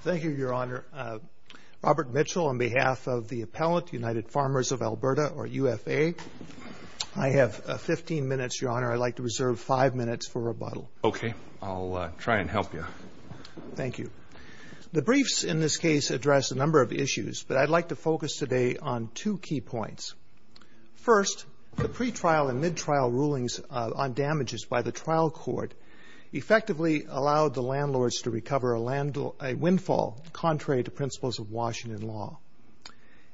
Thank you, Your Honor. Robert Mitchell on behalf of the appellant, United Farmers of Alberta, or UFA. I have 15 minutes, Your Honor. I'd like to reserve five minutes for rebuttal. Okay. I'll try and help you. Thank you. The briefs in this case address a number of issues, but I'd like to focus today on two key points. First, the pretrial and midtrial rulings on damages by the trial court effectively allowed the landlords to recover a windfall contrary to principles of Washington law.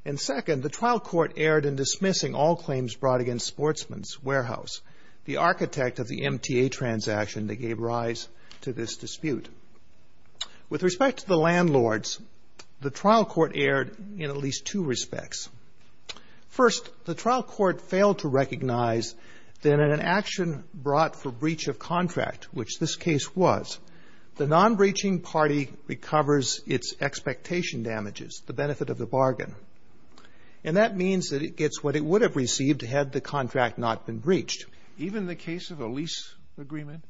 And second, the trial court erred in dismissing all claims brought against Sportsman's Warehouse, the architect of the MTA transaction that gave rise to this dispute. With respect to the landlords, the trial court erred in at least two respects. First, the trial court failed to recognize that in an action brought for breach of contract, which this case was, the non-breaching party recovers its expectation damages, the benefit of the bargain. And that means that it gets what it would have received had the contract not been breached. Even the case of a lease agreement?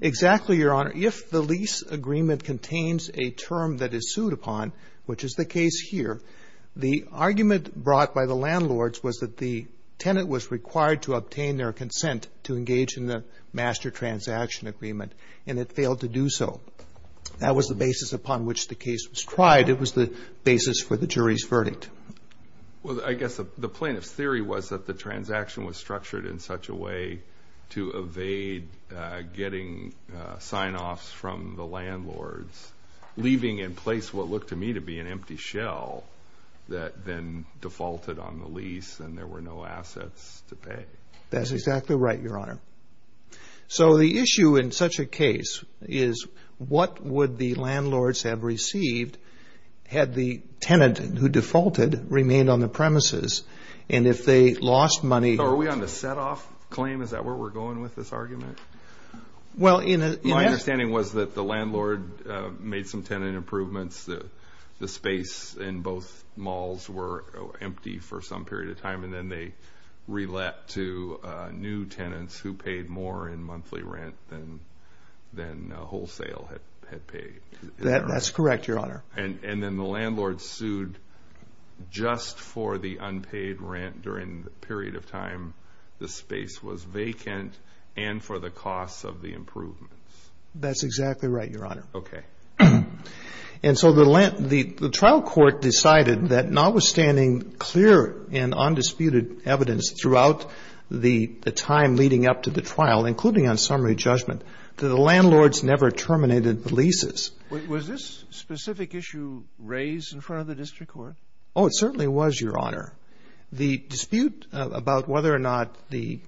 Exactly, Your Honor. If the lease agreement contains a term that is sued upon, which is the case here, the argument brought by the landlords was that the tenant was required to obtain their consent to engage in the master transaction agreement, and it failed to do so. That was the basis upon which the case was tried. It was the basis for the jury's verdict. Well, I guess the plaintiff's theory was that the transaction was structured in such a way to evade getting sign-offs from the landlords, leaving in place what looked to me to be an empty shell that then defaulted on the lease and there were no assets to pay. That's exactly right, Your Honor. So the issue in such a case is what would the landlords have received had the tenant who defaulted remained on the premises, and if they lost money? Are we on the set-off claim? Is that where we're going with this argument? My understanding was that the landlord made some tenant improvements. The space in both malls were empty for some period of time, and then they re-let to new tenants who paid more in monthly rent than wholesale had paid. That's correct, Your Honor. And then the landlord sued just for the unpaid rent during the period of time the space was vacant and for the cost of the improvements. That's exactly right, Your Honor. Okay. And so the trial court decided that notwithstanding clear and undisputed evidence throughout the time leading up to the trial, including on summary judgment, that the landlords never terminated the leases. Was this specific issue raised in front of the district court? Oh, it certainly was, Your Honor. The dispute about whether or not the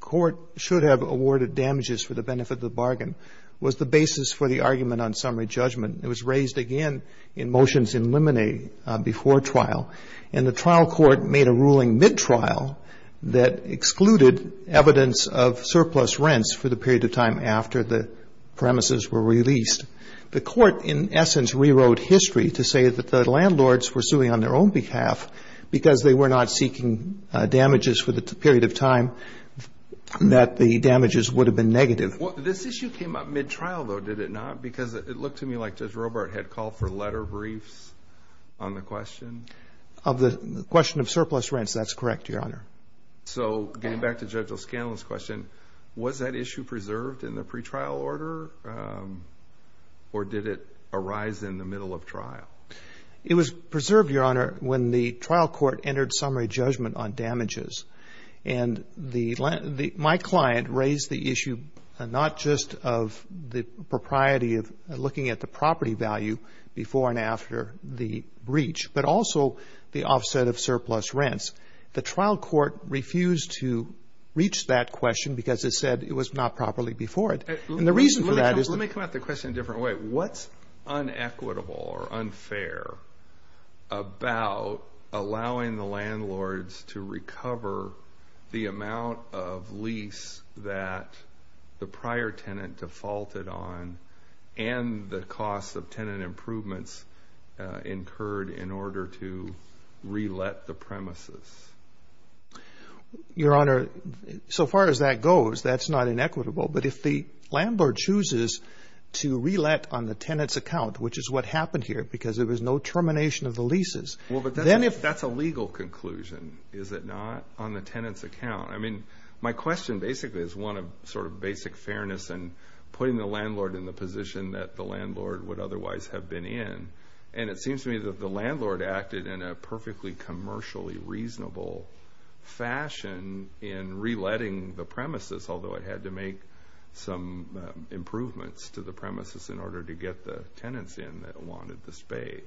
court should have awarded damages for the benefit of the bargain was the basis for the argument on summary judgment. It was raised again in motions in limine before trial, and the trial court made a ruling mid-trial that excluded evidence of surplus rents for the period of time after the premises were released. The court, in essence, rewrote history to say that the landlords were suing on their own behalf because they were not seeking damages for the period of time that the damages would have been negative. This issue came up mid-trial, though, did it not? Because it looked to me like Judge Robart had called for letter briefs on the question. Of the question of surplus rents, that's correct, Your Honor. So getting back to Judge O'Scanlan's question, was that issue preserved in the pretrial order or did it arise in the middle of trial? It was preserved, Your Honor, when the trial court entered summary judgment on damages. And my client raised the issue not just of the propriety of looking at the property value before and after the breach, but also the offset of surplus rents. The trial court refused to reach that question because it said it was not properly before it. And the reason for that is... Let me come at the question in a different way. What's unequitable or unfair about allowing the landlords to recover the amount of lease that the prior tenant defaulted on and the cost of tenant improvements incurred in order to re-let the premises? Your Honor, so far as that goes, that's not inequitable. But if the landlord chooses to re-let on the tenant's account, which is what happened here because there was no termination of the leases... Well, but that's a legal conclusion, is it not, on the tenant's account? I mean, my question basically is one of sort of basic fairness and putting the landlord in the position that the landlord would otherwise have been in. And it seems to me that the landlord acted in a perfectly commercially reasonable fashion in re-letting the premises, although it had to make some improvements to the premises in order to get the tenants in that wanted the space.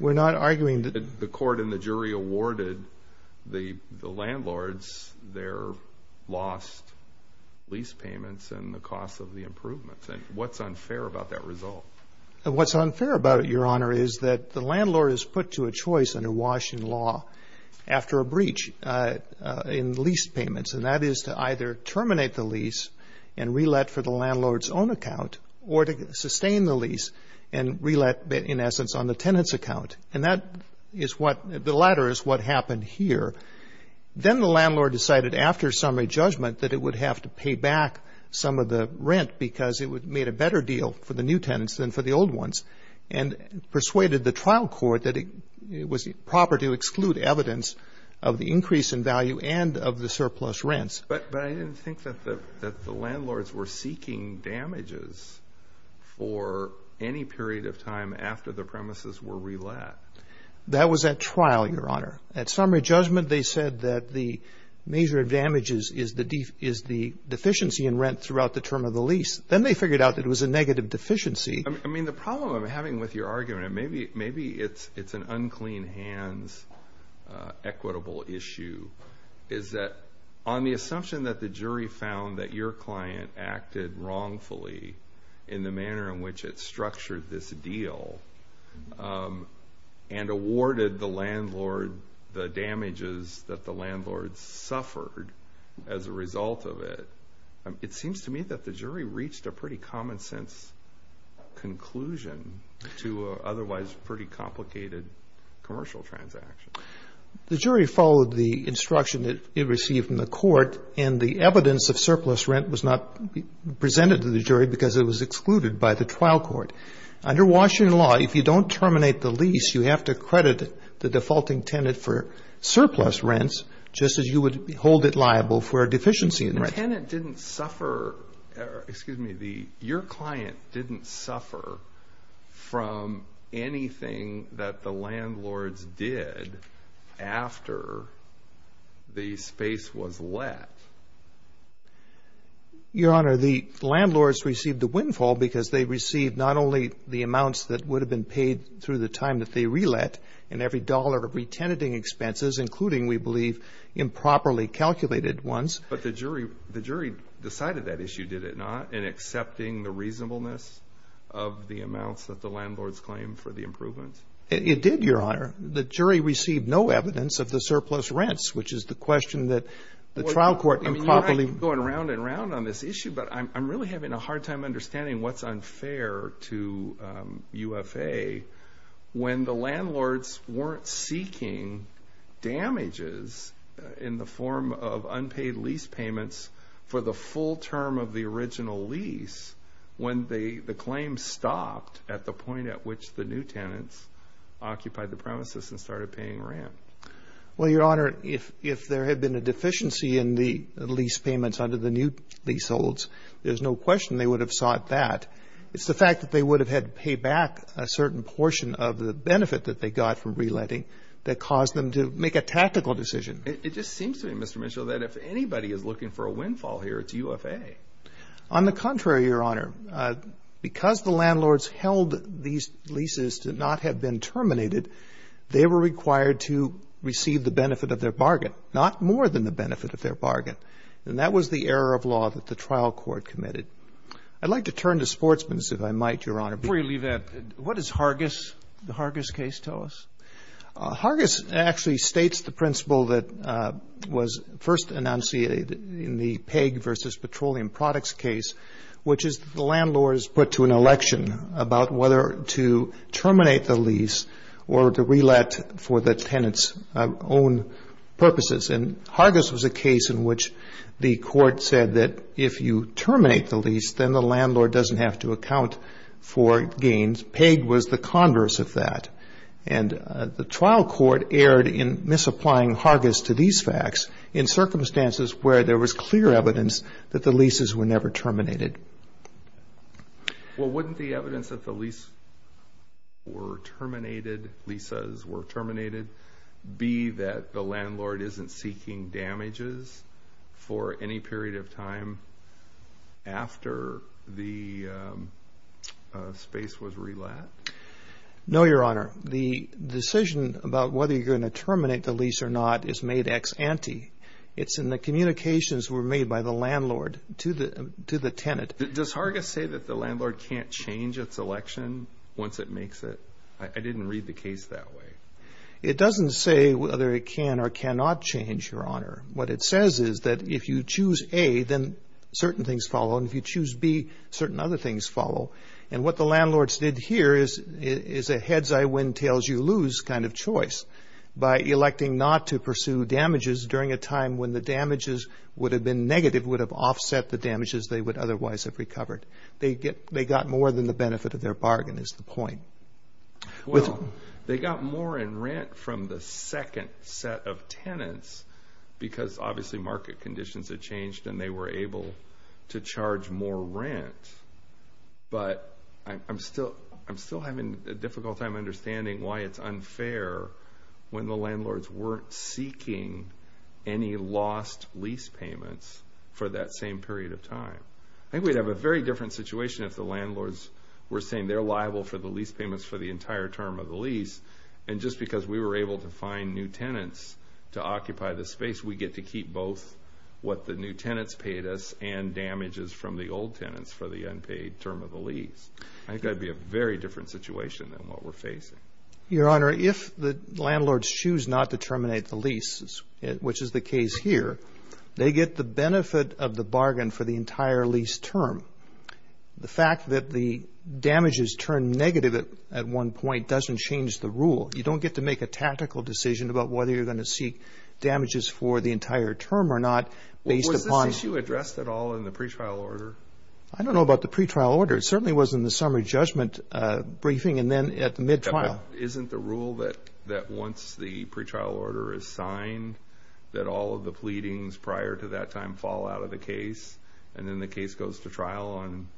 We're not arguing that... The court and the jury awarded the landlords their lost lease payments and the cost of the improvements. What's unfair about that result? What's unfair about it, Your Honor, is that the landlord is put to a choice under Washington law after a breach in lease payments. And that is to either terminate the lease and re-let for the landlord's own account or to sustain the lease and re-let, in essence, on the tenant's account. And that is what the latter is what happened here. Then the landlord decided after summary judgment that it would have to pay back some of the rent because it made a better deal for the new tenants than for the old ones and persuaded the trial court that it was proper to exclude evidence of the increase in value and of the surplus rents. But I didn't think that the landlords were seeking damages for any period of time after the premises were re-let. That was at trial, Your Honor. At summary judgment, they said that the measure of damages is the deficiency in rent throughout the term of the lease. Then they figured out that it was a negative deficiency. I mean, the problem I'm having with your argument, and maybe it's an unclean hands equitable issue, is that on the assumption that the jury found that your client acted wrongfully in the manner in which it structured this deal and awarded the damages that the landlord suffered as a result of it, it seems to me that the jury reached a pretty common-sense conclusion to an otherwise pretty complicated commercial transaction. The jury followed the instruction that it received in the court, and the evidence of surplus rent was not presented to the jury because it was excluded by the trial court. Under Washington law, if you don't terminate the lease, you have to credit the defaulting tenant for surplus rents just as you would hold it liable for a deficiency in rent. But the tenant didn't suffer, or excuse me, your client didn't suffer from anything that the landlords did after the space was let. Your Honor, the landlords received the windfall because they received not only the amounts that would have been paid through the time that they re-let in every dollar of re-tenanting expenses, including, we believe, improperly calculated ones. But the jury decided that issue, did it not, in accepting the reasonableness of the amounts that the landlords claimed for the improvements? It did, Your Honor. The jury received no evidence of the surplus rents, which is the question that the trial court improperly- You're going round and round on this issue, but I'm really having a hard time understanding what's unfair to UFA when the landlords weren't seeking damages in the form of unpaid lease payments for the full term of the original lease when the claim stopped at the point at which the new tenants occupied the premises and started paying rent. Well, Your Honor, if there had been a deficiency in the lease payments under the new leaseholds, there's no question they would have sought that. It's the fact that they would have had to pay back a certain portion of the benefit that they got from re-letting that caused them to make a tactical decision. It just seems to me, Mr. Mitchell, that if anybody is looking for a windfall here, it's UFA. On the contrary, Your Honor. Because the landlords held these leases to not have been terminated, they were required to receive the benefit of their bargain, not more than the benefit of their bargain. And that was the error of law that the trial court committed. I'd like to turn to Sportsman's, if I might, Your Honor. Before you leave that, what does Hargis, the Hargis case, tell us? Hargis actually states the principle that was first enunciated in the peg versus petroleum products case, which is the landlord is put to an election about whether to terminate the lease or to re-let for the tenant's own purposes. And Hargis was a case in which the court said that if you terminate the lease, then the landlord doesn't have to account for gains. Peg was the converse of that. And the trial court erred in misapplying Hargis to these facts in circumstances where there was clear evidence that the leases were never terminated. Well, wouldn't the evidence that the lease were terminated, leases were terminated, be that the landlord isn't seeking damages for any period of time after the space was re-let? No, Your Honor. The decision about whether you're going to terminate the lease or not is made ex ante. It's in the communications that were made by the landlord to the tenant. Does Hargis say that the landlord can't change its election once it makes it? I didn't read the case that way. It doesn't say whether it can or cannot change, Your Honor. What it says is that if you choose A, then certain things follow, and if you choose B, certain other things follow. And what the landlords did here is a heads-I-win-tails-you-lose kind of choice by electing not to pursue damages during a time when the damages would have been negative, would have offset the damages they would otherwise have recovered. They got more than the benefit of their bargain is the point. Well, they got more in rent from the second set of tenants because obviously market conditions had changed and they were able to charge more rent. But I'm still having a difficult time understanding why it's unfair when the landlords weren't seeking any lost lease payments for that same period of time. I think we'd have a very different situation if the landlords were saying they're liable for the lease payments for the entire term of the lease, and just because we were able to find new tenants to occupy the space, we get to keep both what the new tenants paid us and damages from the old tenants for the unpaid term of the lease. I think that would be a very different situation than what we're facing. Your Honor, if the landlords choose not to terminate the lease, which is the case here, they get the benefit of the bargain for the entire lease term. The fact that the damages turn negative at one point doesn't change the rule. You don't get to make a tactical decision about whether you're going to seek damages for the entire term or not based upon— Was this issue addressed at all in the pretrial order? I don't know about the pretrial order. It certainly was in the summary judgment briefing and then at the mid-trial. Isn't the rule that once the pretrial order is signed that all of the pleadings prior to that time fall out of the case and then the case goes to trial on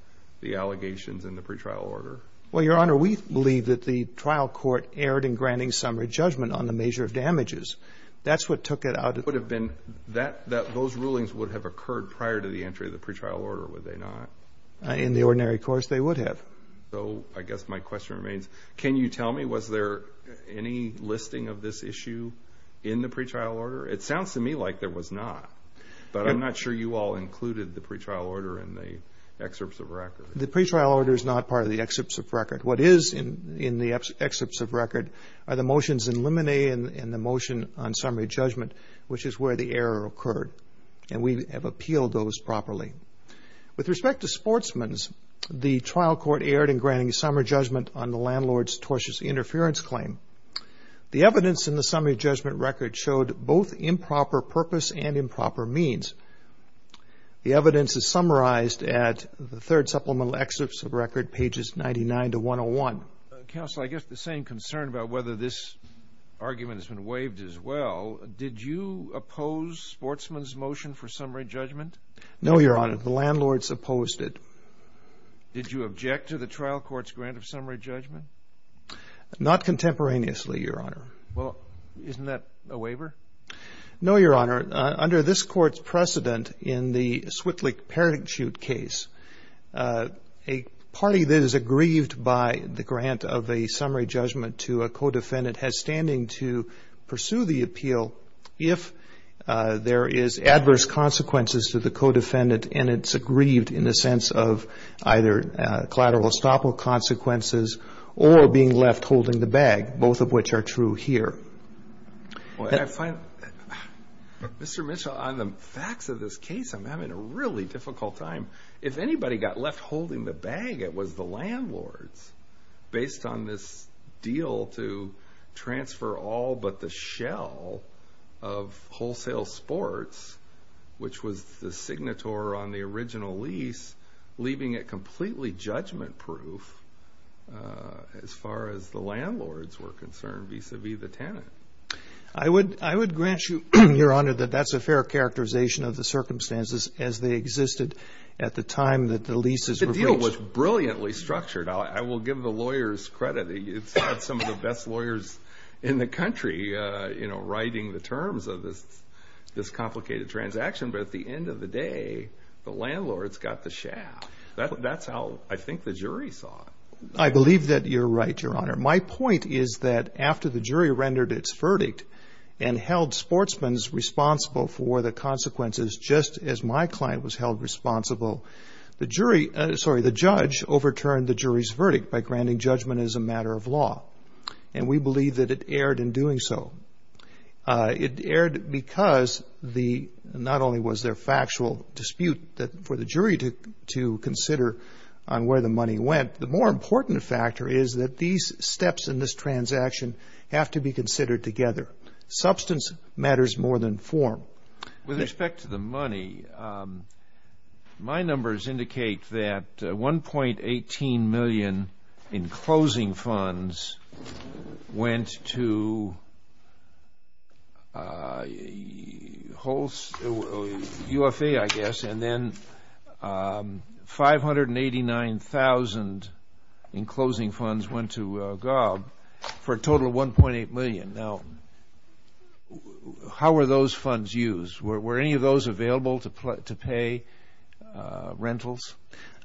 the allegations in the pretrial order? Well, Your Honor, we believe that the trial court erred in granting summary judgment on the measure of damages. That's what took it out. Those rulings would have occurred prior to the entry of the pretrial order, would they not? In the ordinary course, they would have. So I guess my question remains, can you tell me, was there any listing of this issue in the pretrial order? It sounds to me like there was not, but I'm not sure you all included the pretrial order in the excerpts of record. The pretrial order is not part of the excerpts of record. What is in the excerpts of record are the motions in limine and the motion on summary judgment, which is where the error occurred, and we have appealed those properly. With respect to sportsmen, the trial court erred in granting summary judgment on the landlord's tortious interference claim. The evidence in the summary judgment record showed both improper purpose and improper means. The evidence is summarized at the third supplemental excerpts of record, pages 99 to 101. Counsel, I guess the same concern about whether this argument has been waived as well, did you oppose sportsmen's motion for summary judgment? No, Your Honor, the landlords opposed it. Did you object to the trial court's grant of summary judgment? Not contemporaneously, Your Honor. Well, isn't that a waiver? No, Your Honor. Under this court's precedent in the Switlik-Parachute case, a party that is aggrieved by the grant of a summary judgment to a co-defendant has standing to pursue the appeal if there is adverse consequences to the co-defendant and it's aggrieved in the sense of either collateral estoppel consequences or being left holding the bag, both of which are true here. Mr. Mitchell, on the facts of this case, I'm having a really difficult time. If anybody got left holding the bag, it was the landlords, based on this deal to transfer all but the shell of wholesale sports, which was the signator on the original lease, leaving it completely judgment-proof as far as the landlords were concerned, vis-à-vis the tenant. I would grant you, Your Honor, that that's a fair characterization of the circumstances as they existed at the time that the leases were breached. The deal was brilliantly structured. I will give the lawyers credit. It's got some of the best lawyers in the country writing the terms of this complicated transaction, but at the end of the day, the landlords got the shaft. That's how I think the jury saw it. I believe that you're right, Your Honor. My point is that after the jury rendered its verdict and held sportsmen responsible for the consequences just as my client was held responsible, the judge overturned the jury's verdict by granting judgment as a matter of law, and we believe that it erred in doing so. It erred because not only was there factual dispute for the jury to consider on where the money went, the more important factor is that these steps in this transaction have to be considered together. Substance matters more than form. With respect to the money, my numbers indicate that $1.18 million in closing funds went to UFA, I guess, and then $589,000 in closing funds went to GOB for a total of $1.8 million. Now, how were those funds used? Were any of those available to pay rentals?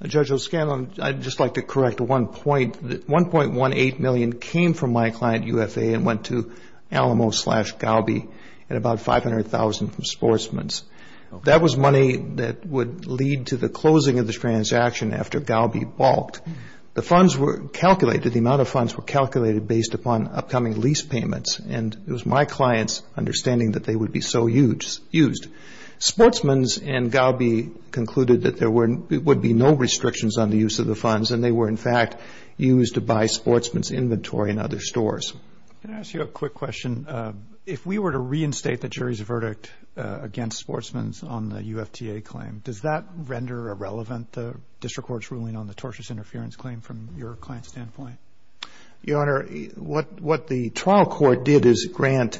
Judge O'Scanlan, I'd just like to correct one point. $1.18 million came from my client, UFA, and went to Alamo slash GOB and about $500,000 from sportsmen's. That was money that would lead to the closing of the transaction after GOB balked. The funds were calculated, the amount of funds were calculated based upon upcoming lease payments, and it was my client's understanding that they would be so used. Sportsmen's and GOB concluded that there would be no restrictions on the use of the funds, and they were, in fact, used to buy sportsmen's inventory in other stores. Can I ask you a quick question? If we were to reinstate the jury's verdict against sportsmen's on the UFTA claim, does that render irrelevant the district court's ruling on the tortious interference claim from your client's standpoint? Your Honor, what the trial court did is grant,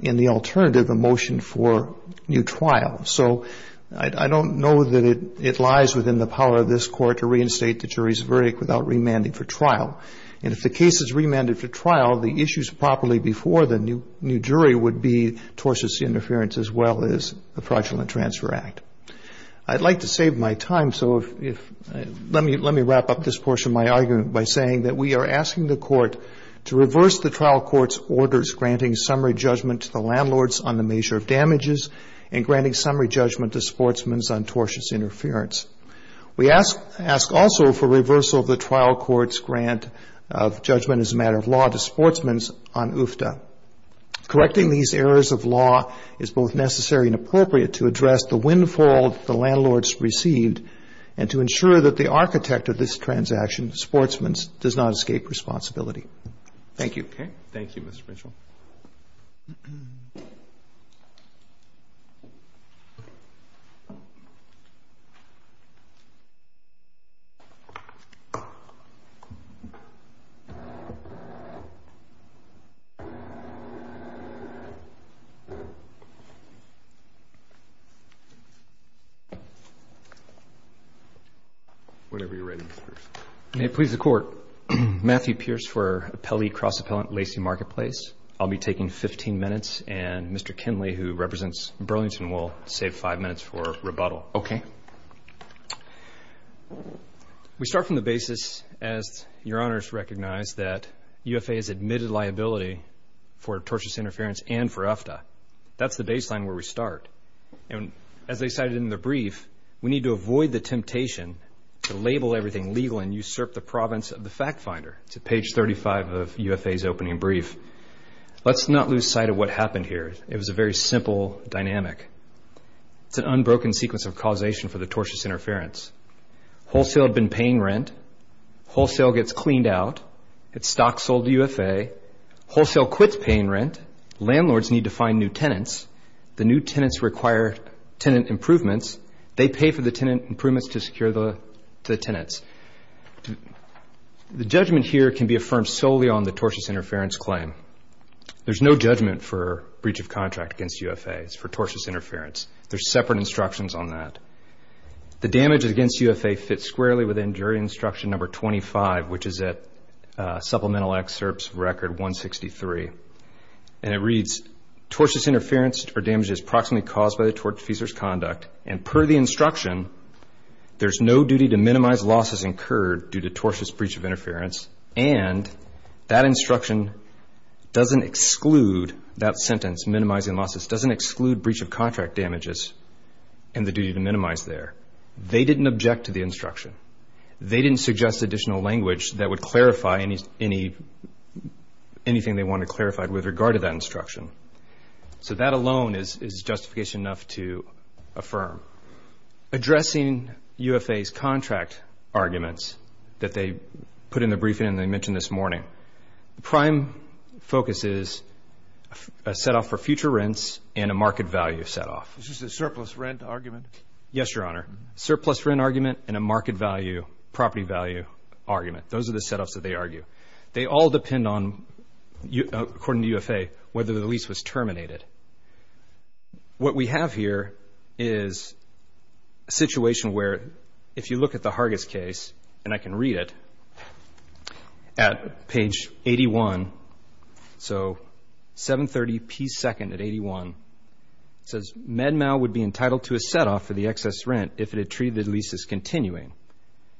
in the alternative, a motion for new trial. So I don't know that it lies within the power of this court to reinstate the jury's verdict without remanding for trial. And if the case is remanded for trial, the issues properly before the new jury would be tortious interference as well as the fraudulent transfer act. I'd like to save my time, so let me wrap up this portion of my argument by saying that we are asking the court to reverse the trial court's orders granting summary judgment to the landlords on the measure of damages and granting summary judgment to sportsmen's on tortious interference. We ask also for reversal of the trial court's grant of judgment as a matter of law to sportsmen's on UFTA. Correcting these errors of law is both necessary and appropriate to address the windfall the landlords received and to ensure that the architect of this transaction, sportsmen's, does not escape responsibility. Thank you. Okay. Thank you, Mr. Mitchell. Whatever you're writing, Mr. Pearson. May it please the court. Matthew Pearce for Appellee Cross Appellant Lacey Marketplace. I'll be taking 15 minutes, and Mr. Kinley, who represents Burlington, will save five minutes for rebuttal. Okay. We start from the basis, as Your Honors recognize, that UFA has admitted liability for tortious interference and for UFTA. That's the baseline where we start. And as they cited in the brief, we need to avoid the temptation to label everything legal and usurp the province of the fact finder. It's at page 35 of UFA's opening brief. Let's not lose sight of what happened here. It was a very simple dynamic. It's an unbroken sequence of causation for the tortious interference. Wholesale had been paying rent. Wholesale gets cleaned out. It's stock sold to UFA. Wholesale quits paying rent. Landlords need to find new tenants. The new tenants require tenant improvements. They pay for the tenant improvements to secure the tenants. The judgment here can be affirmed solely on the tortious interference claim. There's no judgment for breach of contract against UFA. It's for tortious interference. There's separate instructions on that. The damage against UFA fits squarely within jury instruction number 25, which is at supplemental excerpts record 163. And it reads, tortious interference or damage is approximately caused by the tort defeasor's conduct. And per the instruction, there's no duty to minimize losses incurred due to tortious breach of interference. And that instruction doesn't exclude that sentence, minimizing losses, doesn't exclude breach of contract damages and the duty to minimize there. They didn't object to the instruction. They didn't suggest additional language that would clarify anything they wanted to clarify with regard to that instruction. So that alone is justification enough to affirm. Addressing UFA's contract arguments that they put in the briefing and they mentioned this morning, the prime focus is a set-off for future rents and a market value set-off. Is this a surplus rent argument? Yes, Your Honor. Surplus rent argument and a market value, property value argument. Those are the set-offs that they argue. They all depend on, according to UFA, whether the lease was terminated. What we have here is a situation where, if you look at the Hargis case, and I can read it at page 81, so 730p2 at 81, it says, MedMAL would be entitled to a set-off for the excess rent if it had treated the lease as continuing.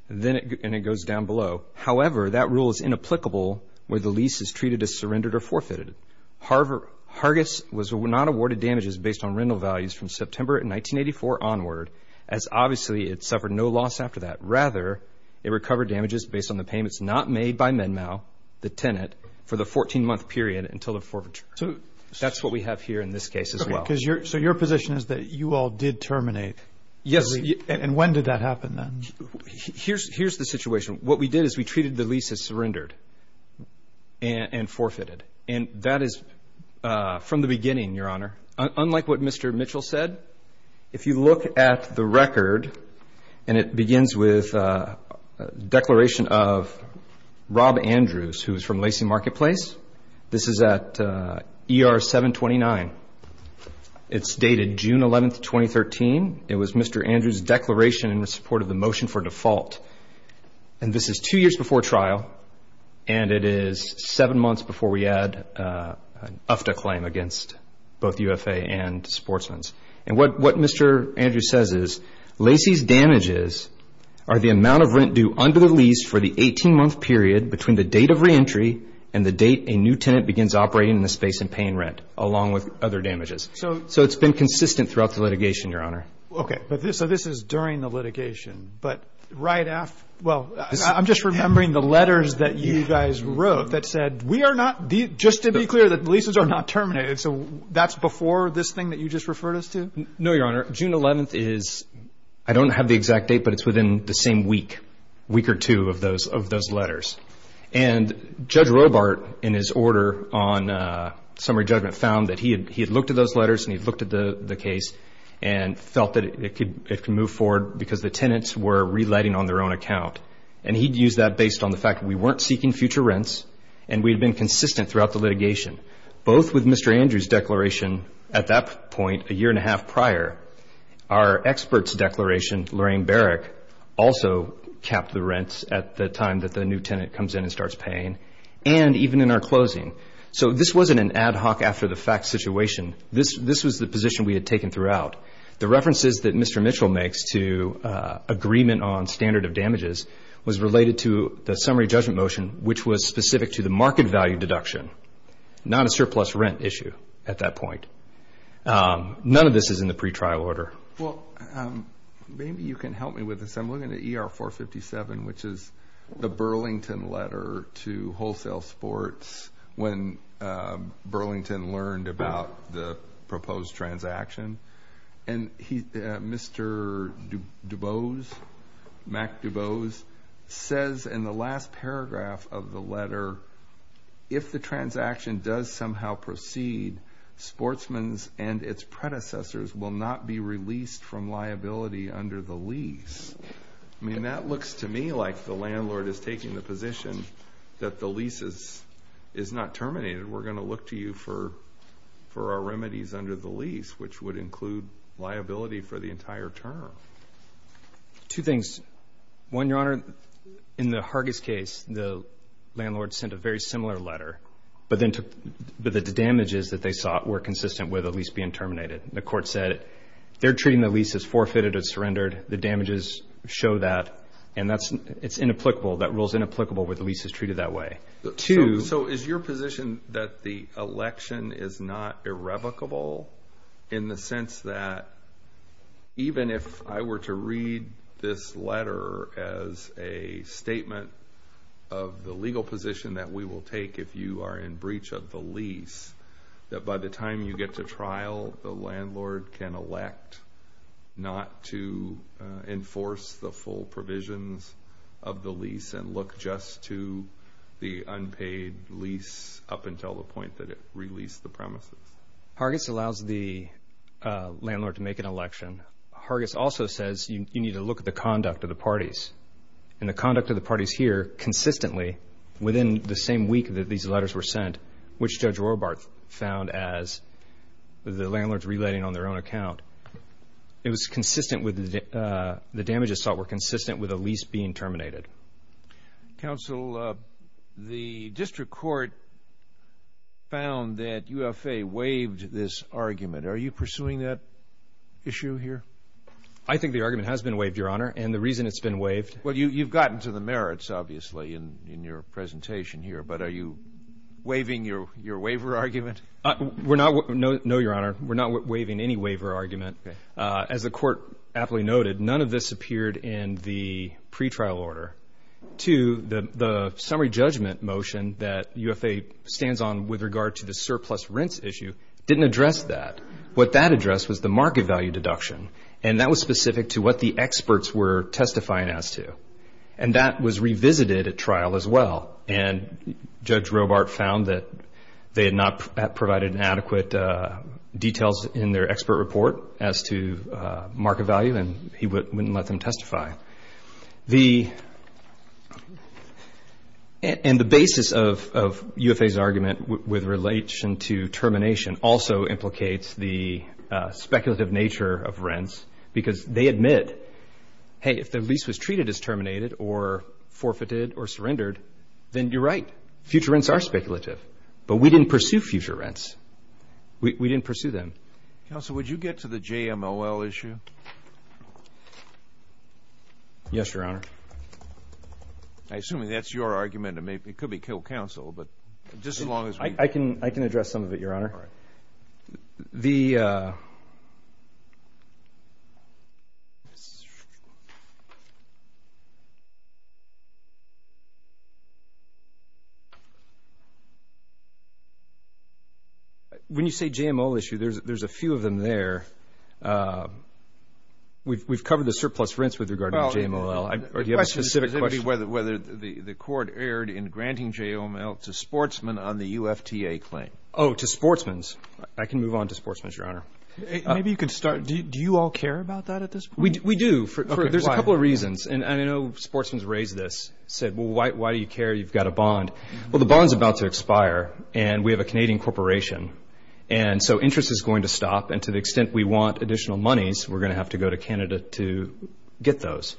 And it goes down below. However, that rule is inapplicable where the lease is treated as surrendered or forfeited. Hargis was not awarded damages based on rental values from September 1984 onward, as obviously it suffered no loss after that. Rather, it recovered damages based on the payments not made by MedMAL, the tenant, for the 14-month period until the forfeiture. That's what we have here in this case as well. So your position is that you all did terminate? Yes. And when did that happen then? Here's the situation. What we did is we treated the lease as surrendered and forfeited. And that is from the beginning, Your Honor. Unlike what Mr. Mitchell said, if you look at the record, and it begins with a declaration of Rob Andrews, who is from Lacey Marketplace. This is at ER 729. It's dated June 11, 2013. It was Mr. Andrews' declaration in support of the motion for default. And this is two years before trial, and it is seven months before we add an UFTA claim against both UFA and sportsmen. And what Mr. Andrews says is Lacey's damages are the amount of rent due under the lease for the 18-month period between the date of reentry and the date a new tenant begins operating in the space and paying rent, along with other damages. So it's been consistent throughout the litigation, Your Honor. Okay. So this is during the litigation. But right after – well, I'm just remembering the letters that you guys wrote that said, we are not – just to be clear, the leases are not terminated. So that's before this thing that you just referred us to? No, Your Honor. June 11th is – I don't have the exact date, but it's within the same week, week or two of those letters. And Judge Robart, in his order on summary judgment, found that he had looked at those letters and he had looked at the case and felt that it could move forward because the tenants were relighting on their own account. And he had used that based on the fact that we weren't seeking future rents and we had been consistent throughout the litigation, both with Mr. Andrews' declaration at that point a year and a half prior. Our experts' declaration, Lorraine Barrick, also capped the rents at the time that the new tenant comes in and starts paying, and even in our closing. So this wasn't an ad hoc after-the-fact situation. This was the position we had taken throughout. The references that Mr. Mitchell makes to agreement on standard of damages was related to the summary judgment motion, which was specific to the market value deduction, not a surplus rent issue at that point. None of this is in the pretrial order. Well, maybe you can help me with this. I'm looking at ER 457, which is the Burlington letter to Wholesale Sports when Burlington learned about the proposed transaction. And Mr. DuBose, Mac DuBose, says in the last paragraph of the letter, if the transaction does somehow proceed, sportsmen and its predecessors will not be released from liability under the lease. I mean, that looks to me like the landlord is taking the position that the lease is not terminated. We're going to look to you for our remedies under the lease, which would include liability for the entire term. Two things. One, Your Honor, in the Hargis case, the landlord sent a very similar letter, but the damages that they sought were consistent with a lease being terminated. The court said they're treating the lease as forfeited or surrendered. The damages show that, and it's inapplicable. That rule is inapplicable where the lease is treated that way. Two. So is your position that the election is not irrevocable in the sense that, even if I were to read this letter as a statement of the legal position that we will take if you are in breach of the lease, that by the time you get to trial, the landlord can elect not to enforce the full provisions of the lease and look just to the unpaid lease up until the point that it released the premises? Hargis allows the landlord to make an election. Hargis also says you need to look at the conduct of the parties. And the conduct of the parties here consistently, within the same week that these letters were sent, which Judge Rohrbart found as the landlords relating on their own account, it was consistent with the damages sought were consistent with a lease being terminated. Counsel, the district court found that UFA waived this argument. Are you pursuing that issue here? I think the argument has been waived, Your Honor, and the reason it's been waived. Well, you've gotten to the merits, obviously, in your presentation here, but are you waiving your waiver argument? No, Your Honor. We're not waiving any waiver argument. As the court aptly noted, none of this appeared in the pretrial order. Two, the summary judgment motion that UFA stands on with regard to the surplus rents issue didn't address that. What that addressed was the market value deduction, and that was specific to what the experts were testifying as to. And that was revisited at trial as well. And Judge Rohrbart found that they had not provided adequate details in their expert report as to market value, and he wouldn't let them testify. And the basis of UFA's argument with relation to termination also implicates the speculative nature of rents Then you're right. Future rents are speculative, but we didn't pursue future rents. We didn't pursue them. Counsel, would you get to the JMOL issue? Yes, Your Honor. I assume that's your argument. It could be killed counsel, but just as long as we can. I can address some of it, Your Honor. When you say JMOL issue, there's a few of them there. We've covered the surplus rents with regard to JMOL. Do you have a specific question? The question is whether the court erred in granting JMOL to sportsmen on the UFTA claim. Oh, to sportsmen. I can move on to sportsmen, Your Honor. Maybe you could start. Do you all care about that at this point? We do. There's a couple of reasons. And I know sportsmen raised this, said, well, why do you care? You've got a bond. Well, the bond's about to expire, and we have a Canadian corporation. And so interest is going to stop. And to the extent we want additional monies, we're going to have to go to Canada to get those.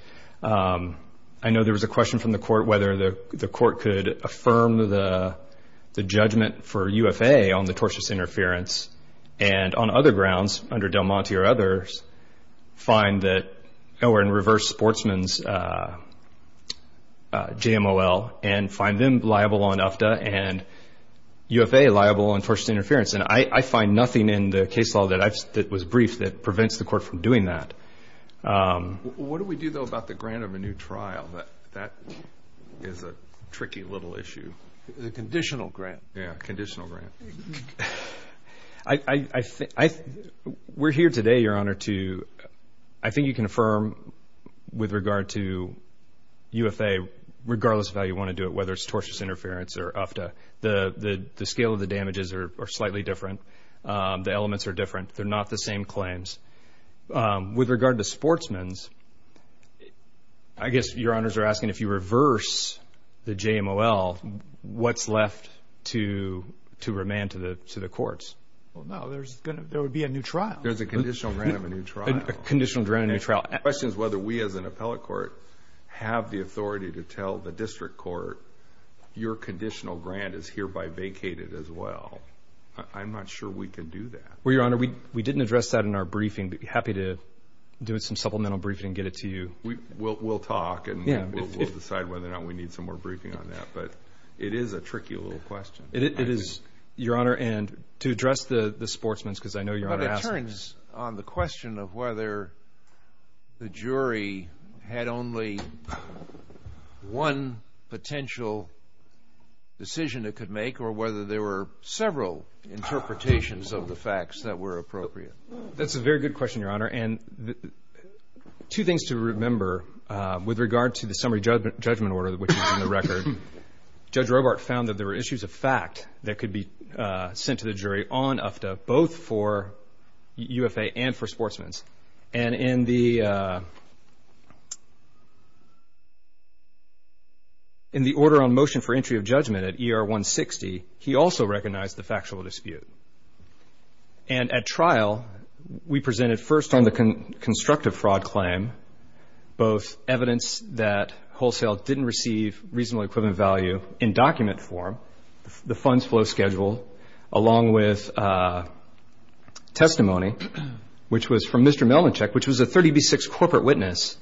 I know there was a question from the court whether the court could affirm the judgment for UFA on the tortious interference and on other grounds, under Del Monte or others, find that we're in reverse sportsmen's JMOL and find them liable on UFTA and UFA liable on tortious interference. And I find nothing in the case law that was briefed that prevents the court from doing that. What do we do, though, about the grant of a new trial? That is a tricky little issue. The conditional grant. Yeah, conditional grant. We're here today, Your Honor, to I think you can affirm with regard to UFA, regardless of how you want to do it, whether it's tortious interference or UFTA, the scale of the damages are slightly different. The elements are different. They're not the same claims. With regard to sportsmen's, I guess Your Honors are asking if you reverse the JMOL, what's left to remand to the courts? Well, no, there would be a new trial. There's a conditional grant of a new trial. A conditional grant of a new trial. The question is whether we as an appellate court have the authority to tell the district court, your conditional grant is hereby vacated as well. I'm not sure we can do that. Well, Your Honor, we didn't address that in our briefing. I'd be happy to do some supplemental briefing and get it to you. We'll talk, and we'll decide whether or not we need some more briefing on that. But it is a tricky little question. It is, Your Honor. And to address the sportsmen's, because I know Your Honor asked. But it turns on the question of whether the jury had only one potential decision it could make or whether there were several interpretations of the facts that were appropriate. That's a very good question, Your Honor. And two things to remember with regard to the summary judgment order, which is in the record. Judge Robart found that there were issues of fact that could be sent to the jury on UFTA, both for UFA and for sportsmen's. And in the order on motion for entry of judgment at ER 160, he also recognized the factual dispute. And at trial, we presented first on the constructive fraud claim, both evidence that wholesale didn't receive reasonably equivalent value in document form, the funds flow schedule, along with testimony, which was from Mr. Melnicek, which was a 30B6 corporate witness.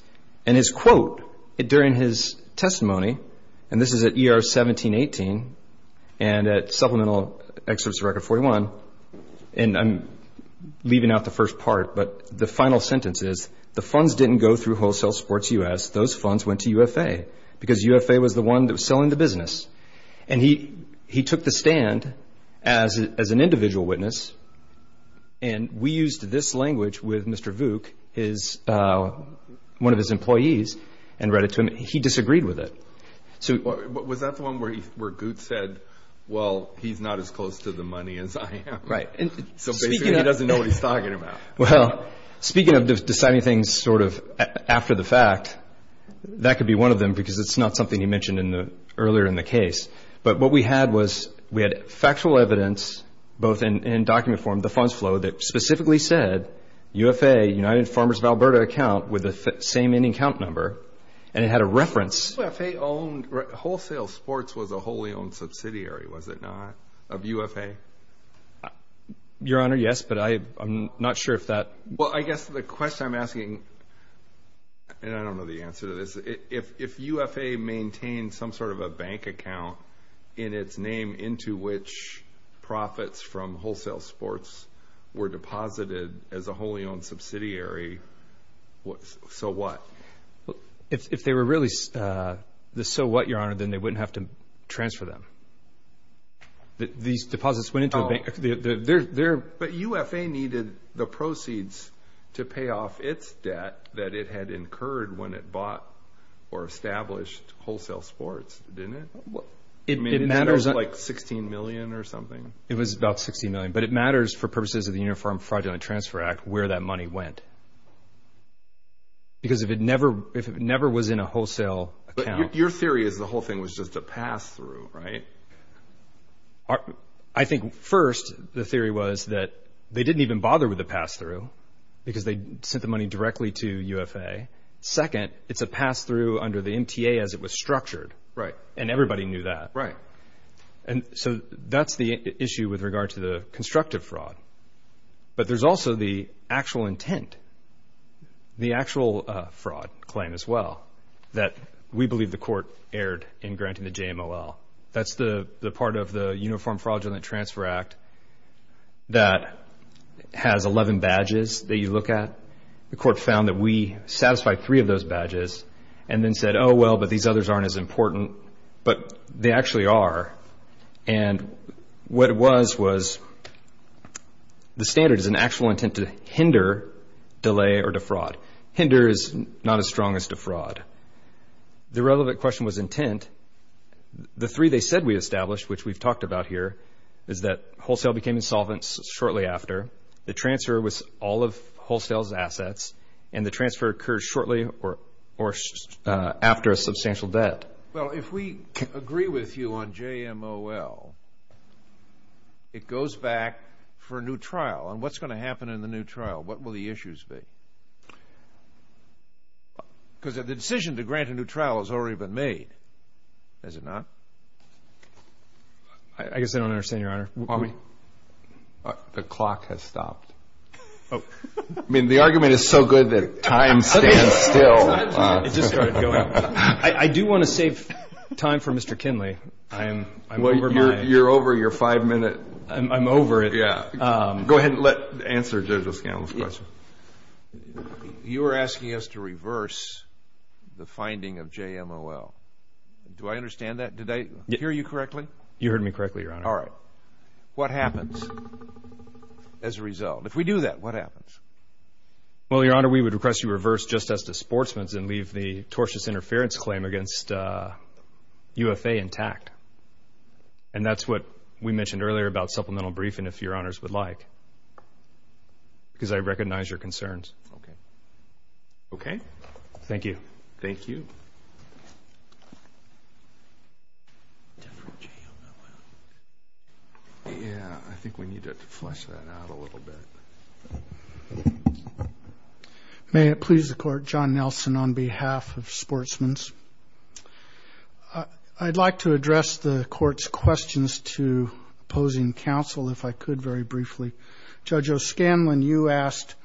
And his quote during his testimony, and this is at ER 1718 and at supplemental excerpts of Record 41. And I'm leaving out the first part, but the final sentence is, the funds didn't go through Wholesale Sports U.S. Those funds went to UFA because UFA was the one that was selling the business. And he took the stand as an individual witness, and we used this language with Mr. Vuke, one of his employees, and read it to him. He disagreed with it. Was that the one where Goot said, well, he's not as close to the money as I am? Right. So basically he doesn't know what he's talking about. Well, speaking of deciding things sort of after the fact, that could be one of them because it's not something you mentioned earlier in the case. But what we had was we had factual evidence, both in document form, the funds flow, that specifically said UFA, United Farmers of Alberta account, with the same in-account number, and it had a reference. UFA owned Wholesale Sports was a wholly owned subsidiary, was it not, of UFA? Your Honor, yes, but I'm not sure if that. Well, I guess the question I'm asking, and I don't know the answer to this, is if UFA maintained some sort of a bank account in its name into which profits from Wholesale Sports were deposited as a wholly owned subsidiary, so what? If they were really the so what, Your Honor, then they wouldn't have to transfer them. These deposits went into a bank. But UFA needed the proceeds to pay off its debt that it had incurred when it bought or established Wholesale Sports, didn't it? It matters. I mean, was it like $16 million or something? It was about $16 million, but it matters for purposes of the Uniform Fraudulent Transfer Act where that money went because if it never was in a wholesale account. But your theory is the whole thing was just a pass-through, right? I think first the theory was that they didn't even bother with the pass-through because they sent the money directly to UFA. Second, it's a pass-through under the MTA as it was structured, and everybody knew that. Right. And so that's the issue with regard to the constructive fraud. But there's also the actual intent, the actual fraud claim as well, that we believe the court erred in granting the JMLL. That's the part of the Uniform Fraudulent Transfer Act that has 11 badges that you look at. The court found that we satisfied three of those badges and then said, oh, well, but these others aren't as important. But they actually are. And what it was was the standard is an actual intent to hinder, delay, or defraud. Hinder is not as strong as defraud. The relevant question was intent. The three they said we established, which we've talked about here, is that wholesale became insolvent shortly after, the transfer was all of wholesale's assets, and the transfer occurred shortly after a substantial debt. Well, if we agree with you on JMLL, it goes back for a new trial. And what's going to happen in the new trial? What will the issues be? Because the decision to grant a new trial has already been made, has it not? I guess I don't understand, Your Honor. The clock has stopped. Oh. I mean, the argument is so good that time stands still. It just started going. I do want to save time for Mr. Kinley. I'm over my. Well, you're over your five-minute. I'm over it. Yeah. Go ahead and answer Judge O'Scanlon's question. You are asking us to reverse the finding of JMLL. Do I understand that? Did I hear you correctly? You heard me correctly, Your Honor. All right. What happens as a result? If we do that, what happens? Well, Your Honor, we would request you reverse Justice Sportsman's and leave the tortious interference claim against UFA intact. And that's what we mentioned earlier about supplemental briefing, even if Your Honors would like, because I recognize your concerns. Okay. Okay? Thank you. Thank you. Yeah, I think we need to flesh that out a little bit. May it please the Court, John Nelson on behalf of Sportsman's. I'd like to address the Court's questions to opposing counsel, if I could very briefly. Judge O'Scanlon, you asked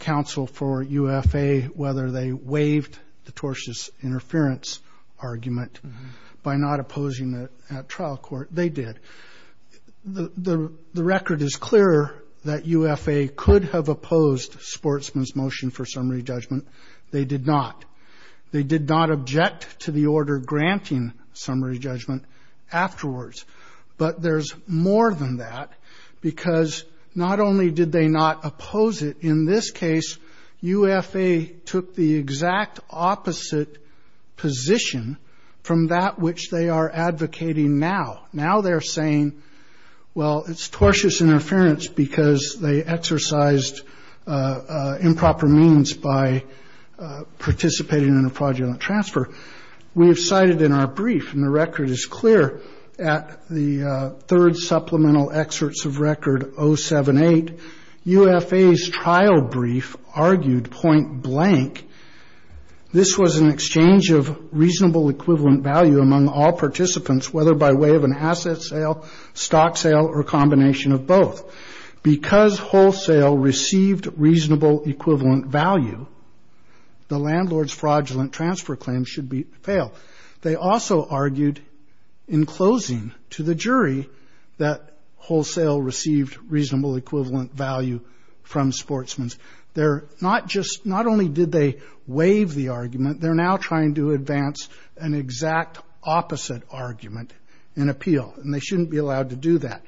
counsel for UFA whether they waived the tortious interference argument by not opposing it at trial court. They did. The record is clearer that UFA could have opposed Sportsman's motion for summary judgment. They did not. They did not object to the order granting summary judgment afterwards. But there's more than that, because not only did they not oppose it, in this case UFA took the exact opposite position from that which they are advocating now. Now they're saying, well, it's tortious interference because they exercised improper means by participating in a fraudulent transfer. We have cited in our brief, and the record is clear, at the third supplemental excerpts of record 078, UFA's trial brief argued point blank, this was an exchange of reasonable equivalent value among all participants, whether by way of an asset sale, stock sale, or combination of both. Because wholesale received reasonable equivalent value, the landlord's fraudulent transfer claim should fail. They also argued in closing to the jury that wholesale received reasonable equivalent value from Sportsman's. They're not just, not only did they waive the argument, they're now trying to advance an exact opposite argument in appeal, and they shouldn't be allowed to do that.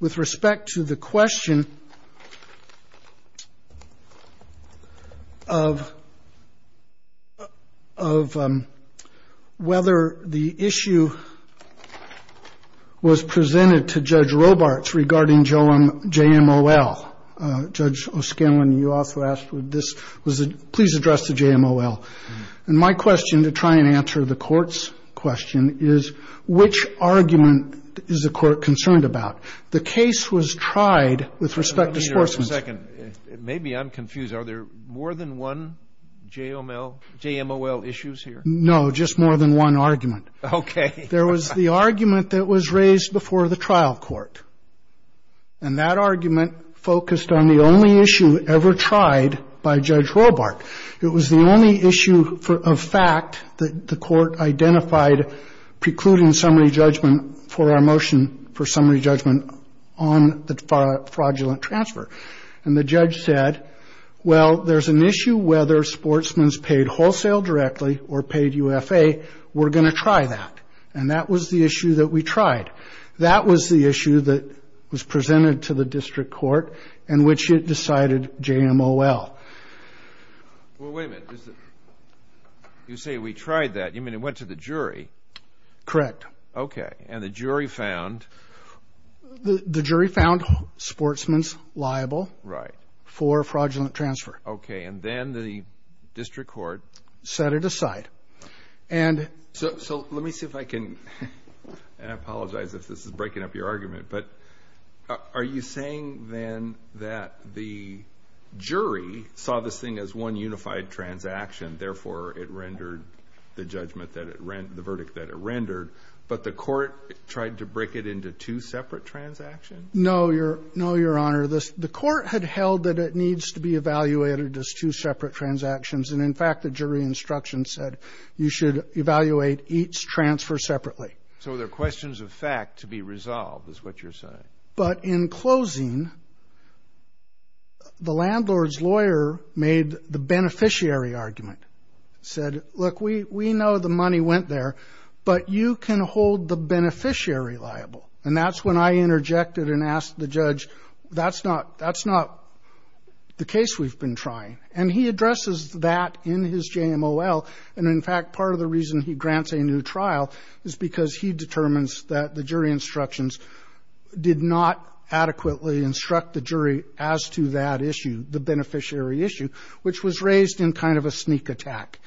With respect to the question of whether the issue was presented to Judge Robarts regarding JMOL, Judge O'Scanlan, you also asked would this, please address the JMOL. And my question to try and answer the court's question is, which argument is the court concerned about? The case was tried with respect to Sportsman's. Maybe I'm confused. Are there more than one JMOL issues here? No, just more than one argument. Okay. There was the argument that was raised before the trial court, and that argument focused on the only issue ever tried by Judge Robart. It was the only issue of fact that the court identified precluding summary judgment for our motion for summary judgment on the fraudulent transfer. And the judge said, well, there's an issue whether Sportsman's paid wholesale directly or paid UFA, we're going to try that. And that was the issue that we tried. That was the issue that was presented to the district court in which it decided JMOL. Well, wait a minute. You say we tried that. You mean it went to the jury? Correct. Okay. And the jury found? The jury found Sportsman's liable for fraudulent transfer. Okay. And then the district court? Set it aside. So let me see if I can apologize if this is breaking up your argument. But are you saying then that the jury saw this thing as one unified transaction, therefore it rendered the judgment that it rendered, the verdict that it rendered, but the court tried to break it into two separate transactions? No, Your Honor. The court had held that it needs to be evaluated as two separate transactions. And, in fact, the jury instruction said you should evaluate each transfer separately. So there are questions of fact to be resolved is what you're saying. But in closing, the landlord's lawyer made the beneficiary argument, said, look, we know the money went there, but you can hold the beneficiary liable. And that's when I interjected and asked the judge, that's not the case we've been trying. And he addresses that in his JMOL. And, in fact, part of the reason he grants a new trial is because he determines that the jury instructions did not adequately instruct the jury as to that issue, the beneficiary issue, which was raised in kind of a sneak attack.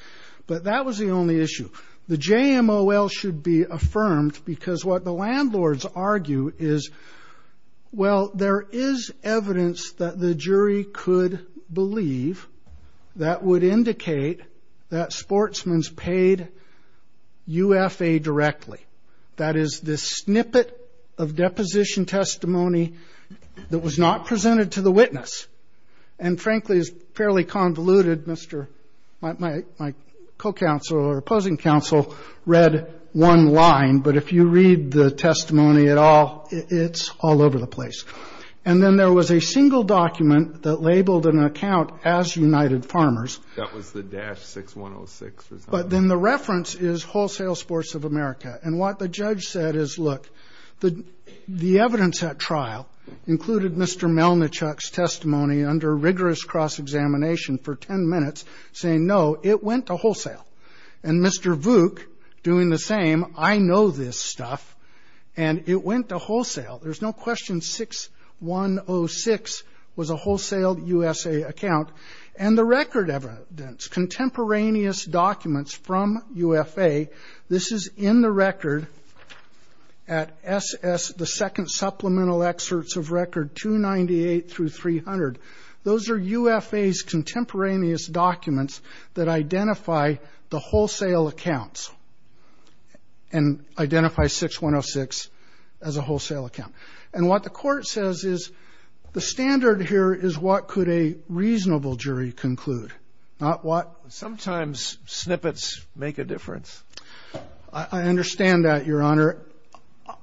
But that was the only issue. The JMOL should be affirmed because what the landlords argue is, well, there is evidence that the jury could believe that would indicate that sportsman's paid UFA directly. That is the snippet of deposition testimony that was not presented to the witness. And, frankly, it's fairly convoluted. My co-counsel or opposing counsel read one line. But if you read the testimony at all, it's all over the place. And then there was a single document that labeled an account as United Farmers. That was the dash 6106. But then the reference is Wholesale Sports of America. And what the judge said is, look, the evidence at trial included Mr. Melnichuk's testimony under rigorous cross-examination for 10 minutes saying, no, it went to wholesale. And Mr. Vuk doing the same, I know this stuff, and it went to wholesale. There's no question 6106 was a Wholesale USA account. And the record evidence, contemporaneous documents from UFA, this is in the record at SS, the second supplemental excerpts of record 298 through 300. Those are UFA's contemporaneous documents that identify the wholesale accounts and identify 6106 as a wholesale account. And what the court says is the standard here is what could a reasonable jury conclude, not what. Sometimes snippets make a difference. I understand that, Your Honor. Your Honor,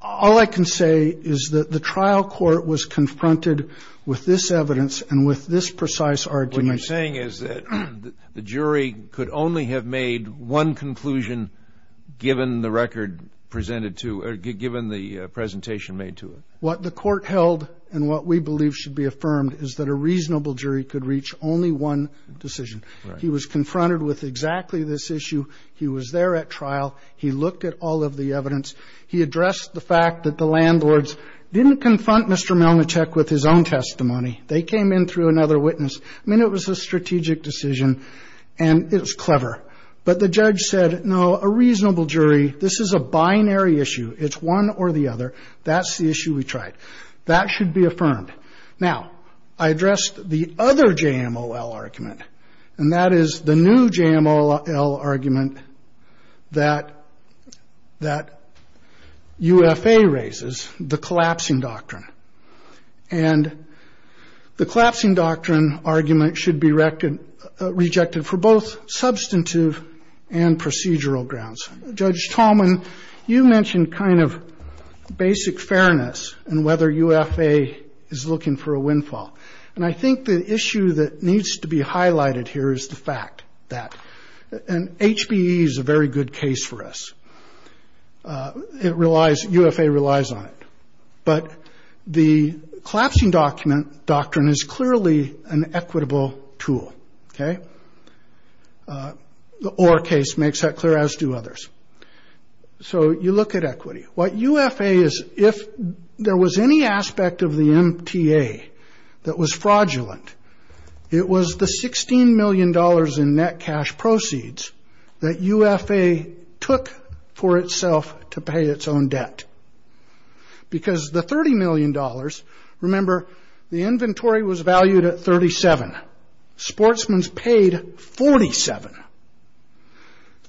all I can say is that the trial court was confronted with this evidence and with this precise argument. What you're saying is that the jury could only have made one conclusion given the record presented to, or given the presentation made to it. What the court held and what we believe should be affirmed is that a reasonable jury could reach only one decision. He was there at trial. He looked at all of the evidence. He addressed the fact that the landlords didn't confront Mr. Melnicek with his own testimony. They came in through another witness. I mean, it was a strategic decision, and it was clever. But the judge said, no, a reasonable jury, this is a binary issue. It's one or the other. That's the issue we tried. That should be affirmed. Now, I addressed the other JMLL argument, and that is the new JMLL argument that UFA raises, the collapsing doctrine. And the collapsing doctrine argument should be rejected for both substantive and procedural grounds. Judge Tallman, you mentioned kind of basic fairness and whether UFA is looking for a windfall. And I think the issue that needs to be highlighted here is the fact that, and HBE is a very good case for us. It relies, UFA relies on it. But the collapsing doctrine is clearly an equitable tool, okay? The Orr case makes that clear, as do others. So you look at equity. What UFA is, if there was any aspect of the MTA that was fraudulent, it was the $16 million in net cash proceeds that UFA took for itself to pay its own debt. Because the $30 million, remember, the inventory was valued at 37. Sportsmen paid 47.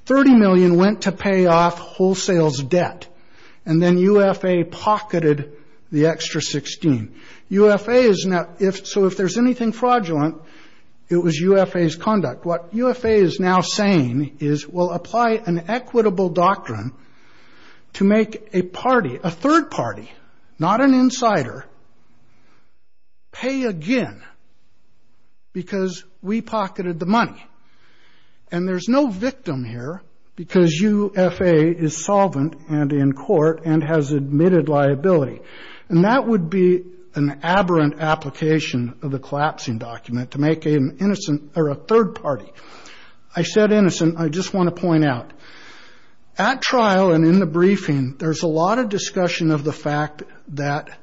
$30 million went to pay off wholesale's debt. And then UFA pocketed the extra 16. UFA is now, so if there's anything fraudulent, it was UFA's conduct. What UFA is now saying is we'll apply an equitable doctrine to make a party, a third party, not an insider, pay again because we pocketed the money. And there's no victim here because UFA is solvent and in court and has admitted liability. And that would be an aberrant application of the collapsing document to make an innocent or a third party. I said innocent. I just want to point out. At trial and in the briefing, there's a lot of discussion of the fact that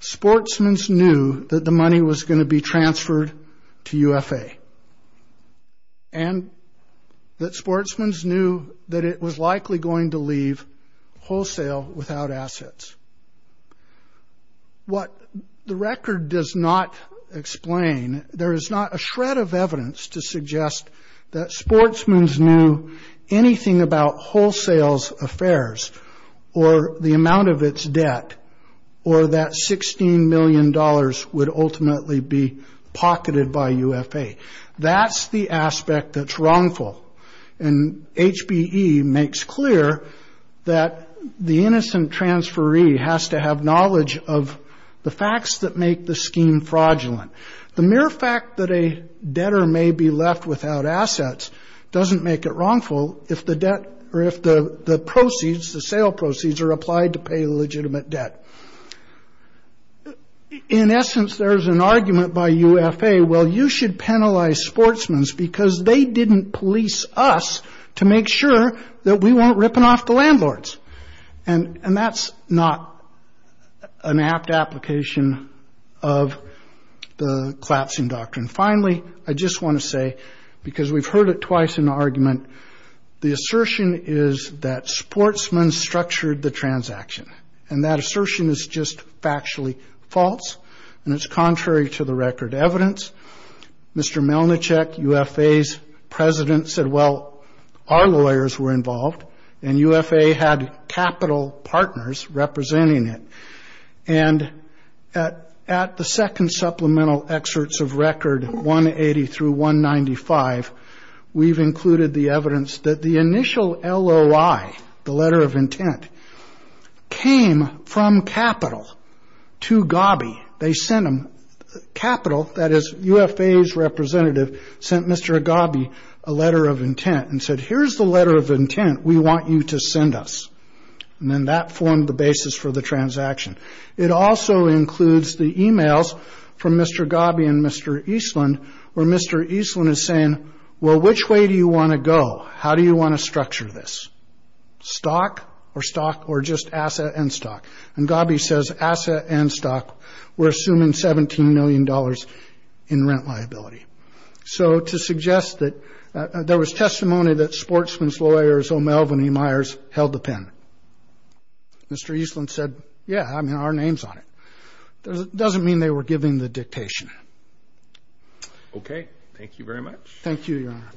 sportsmen knew that the money was going to be transferred to UFA. And that sportsmen knew that it was likely going to leave wholesale without assets. What the record does not explain, there is not a shred of evidence to suggest that sportsmen knew anything about wholesale's affairs or the amount of its debt or that $16 million would ultimately be pocketed by UFA. That's the aspect that's wrongful. And HBE makes clear that the innocent transferee has to have knowledge of the facts that make the scheme fraudulent. The mere fact that a debtor may be left without assets doesn't make it wrongful if the debt or if the proceeds, the sale proceeds, are applied to pay legitimate debt. In essence, there is an argument by UFA. Well, you should penalize sportsmen because they didn't police us to make sure that we weren't ripping off the landlords. And that's not an apt application of the collapsing doctrine. And finally, I just want to say, because we've heard it twice in the argument, the assertion is that sportsmen structured the transaction. And that assertion is just factually false, and it's contrary to the record evidence. Mr. Melnicek, UFA's president, said, well, our lawyers were involved, and UFA had capital partners representing it. And at the second supplemental excerpts of record 180 through 195, we've included the evidence that the initial LOI, the letter of intent, came from capital to Gabi. They sent them capital. That is, UFA's representative sent Mr. Gabi a letter of intent and said, here's the letter of intent we want you to send us. And then that formed the basis for the transaction. It also includes the emails from Mr. Gabi and Mr. Eastland, where Mr. Eastland is saying, well, which way do you want to go? How do you want to structure this? Stock or stock or just asset and stock? And Gabi says asset and stock, we're assuming $17 million in rent liability. So to suggest that there was testimony that sportsman's lawyers, O'Melveny, Myers, held the pen. Mr. Eastland said, yeah, I mean, our name's on it. It doesn't mean they were giving the dictation. Okay. Thank you very much. Thank you, Your Honor.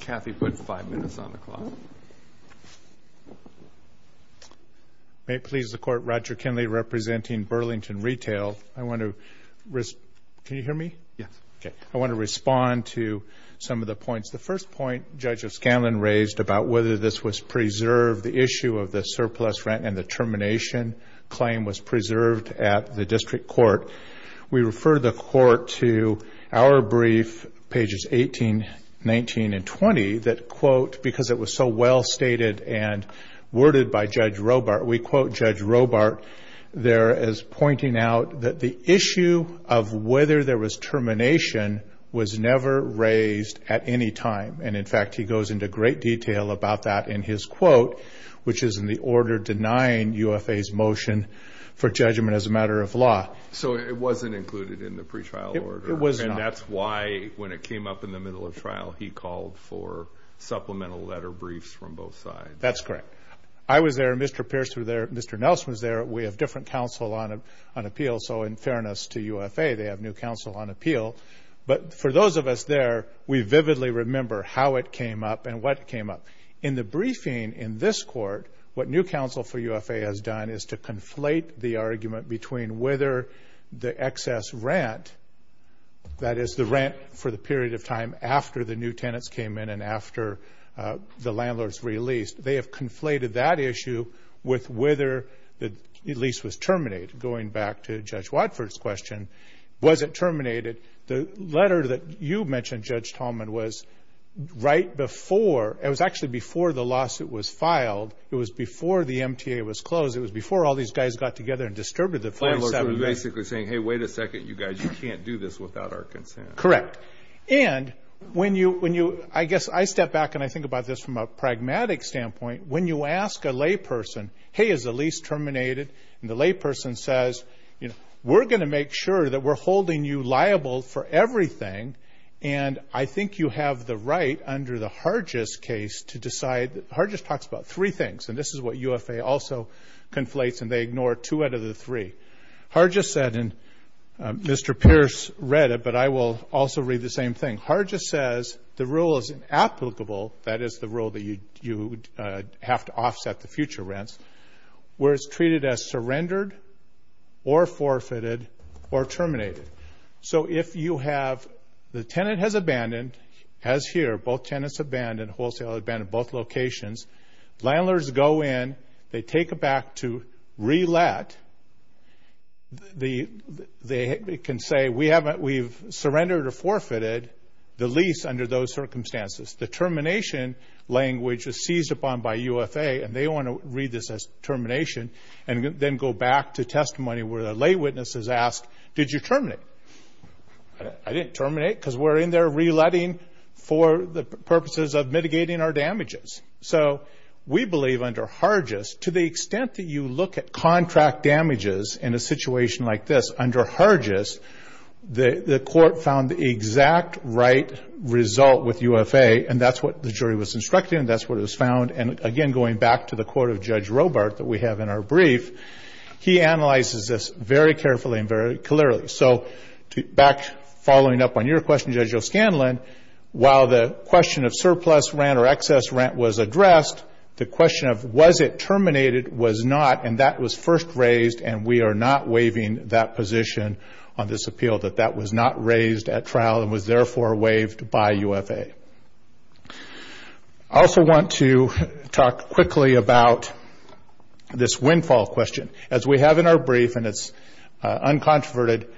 Kathy put five minutes on the clock. May it please the Court, Roger Kinley representing Burlington Retail. I want to respond to some of the points. The first point Judge O'Scanlan raised about whether this was preserved, the issue of the surplus rent and the termination claim was preserved at the district court. We refer the court to our brief, pages 18, 19, and 20, that, quote, because it was so well stated and worded by Judge Robart, we quote Judge Robart there as pointing out that the issue of whether there was termination was never raised at any time. And, in fact, he goes into great detail about that in his quote, which is in the order denying UFA's motion for judgment as a matter of law. So it wasn't included in the pretrial order. It was not. And that's why when it came up in the middle of trial, he called for supplemental letter briefs from both sides. That's correct. I was there. Mr. Pierce was there. Mr. Nelson was there. We have different counsel on appeal. So, in fairness to UFA, they have new counsel on appeal. But for those of us there, we vividly remember how it came up and what came up. In the briefing in this court, what new counsel for UFA has done is to conflate the argument between whether the excess rent, that is the rent for the period of time after the new tenants came in and after the landlord's released, they have conflated that issue with whether the lease was terminated. Going back to Judge Watford's question, was it terminated, the letter that you mentioned, Judge Tallman, was right before, it was actually before the lawsuit was filed. It was before the MTA was closed. It was before all these guys got together and disturbed the 47 men. The landlord was basically saying, hey, wait a second, you guys, you can't do this without our consent. Correct. And when you, I guess I step back and I think about this from a pragmatic standpoint. When you ask a layperson, hey, is the lease terminated, and the layperson says, you know, we're going to make sure that we're holding you liable for everything, and I think you have the right under the Hargis case to decide, Hargis talks about three things, and this is what UFA also conflates, and they ignore two out of the three. Hargis said, and Mr. Pierce read it, but I will also read the same thing. Hargis says the rule is inapplicable, that is the rule that you have to offset the future rents, where it's treated as surrendered or forfeited or terminated. So if you have, the tenant has abandoned, as here, both tenants abandoned, wholesale abandoned, both locations. Landlords go in, they take it back to re-let. They can say, we've surrendered or forfeited the lease under those circumstances. The termination language is seized upon by UFA, and they want to read this as termination and then go back to testimony where the lay witness is asked, did you terminate? I didn't terminate because we're in there re-letting for the purposes of mitigating our damages. So we believe under Hargis, to the extent that you look at contract damages in a situation like this, under Hargis, the court found the exact right result with UFA, and that's what the jury was instructed, and that's what it was found. And again, going back to the quote of Judge Robart that we have in our brief, he analyzes this very carefully and very clearly. So back, following up on your question, Judge O'Scanlan, while the question of surplus rent or excess rent was addressed, the question of was it terminated was not, and that was first raised, and we are not waiving that position on this appeal, that that was not raised at trial and was therefore waived by UFA. I also want to talk quickly about this windfall question. As we have in our brief, and it's uncontroverted,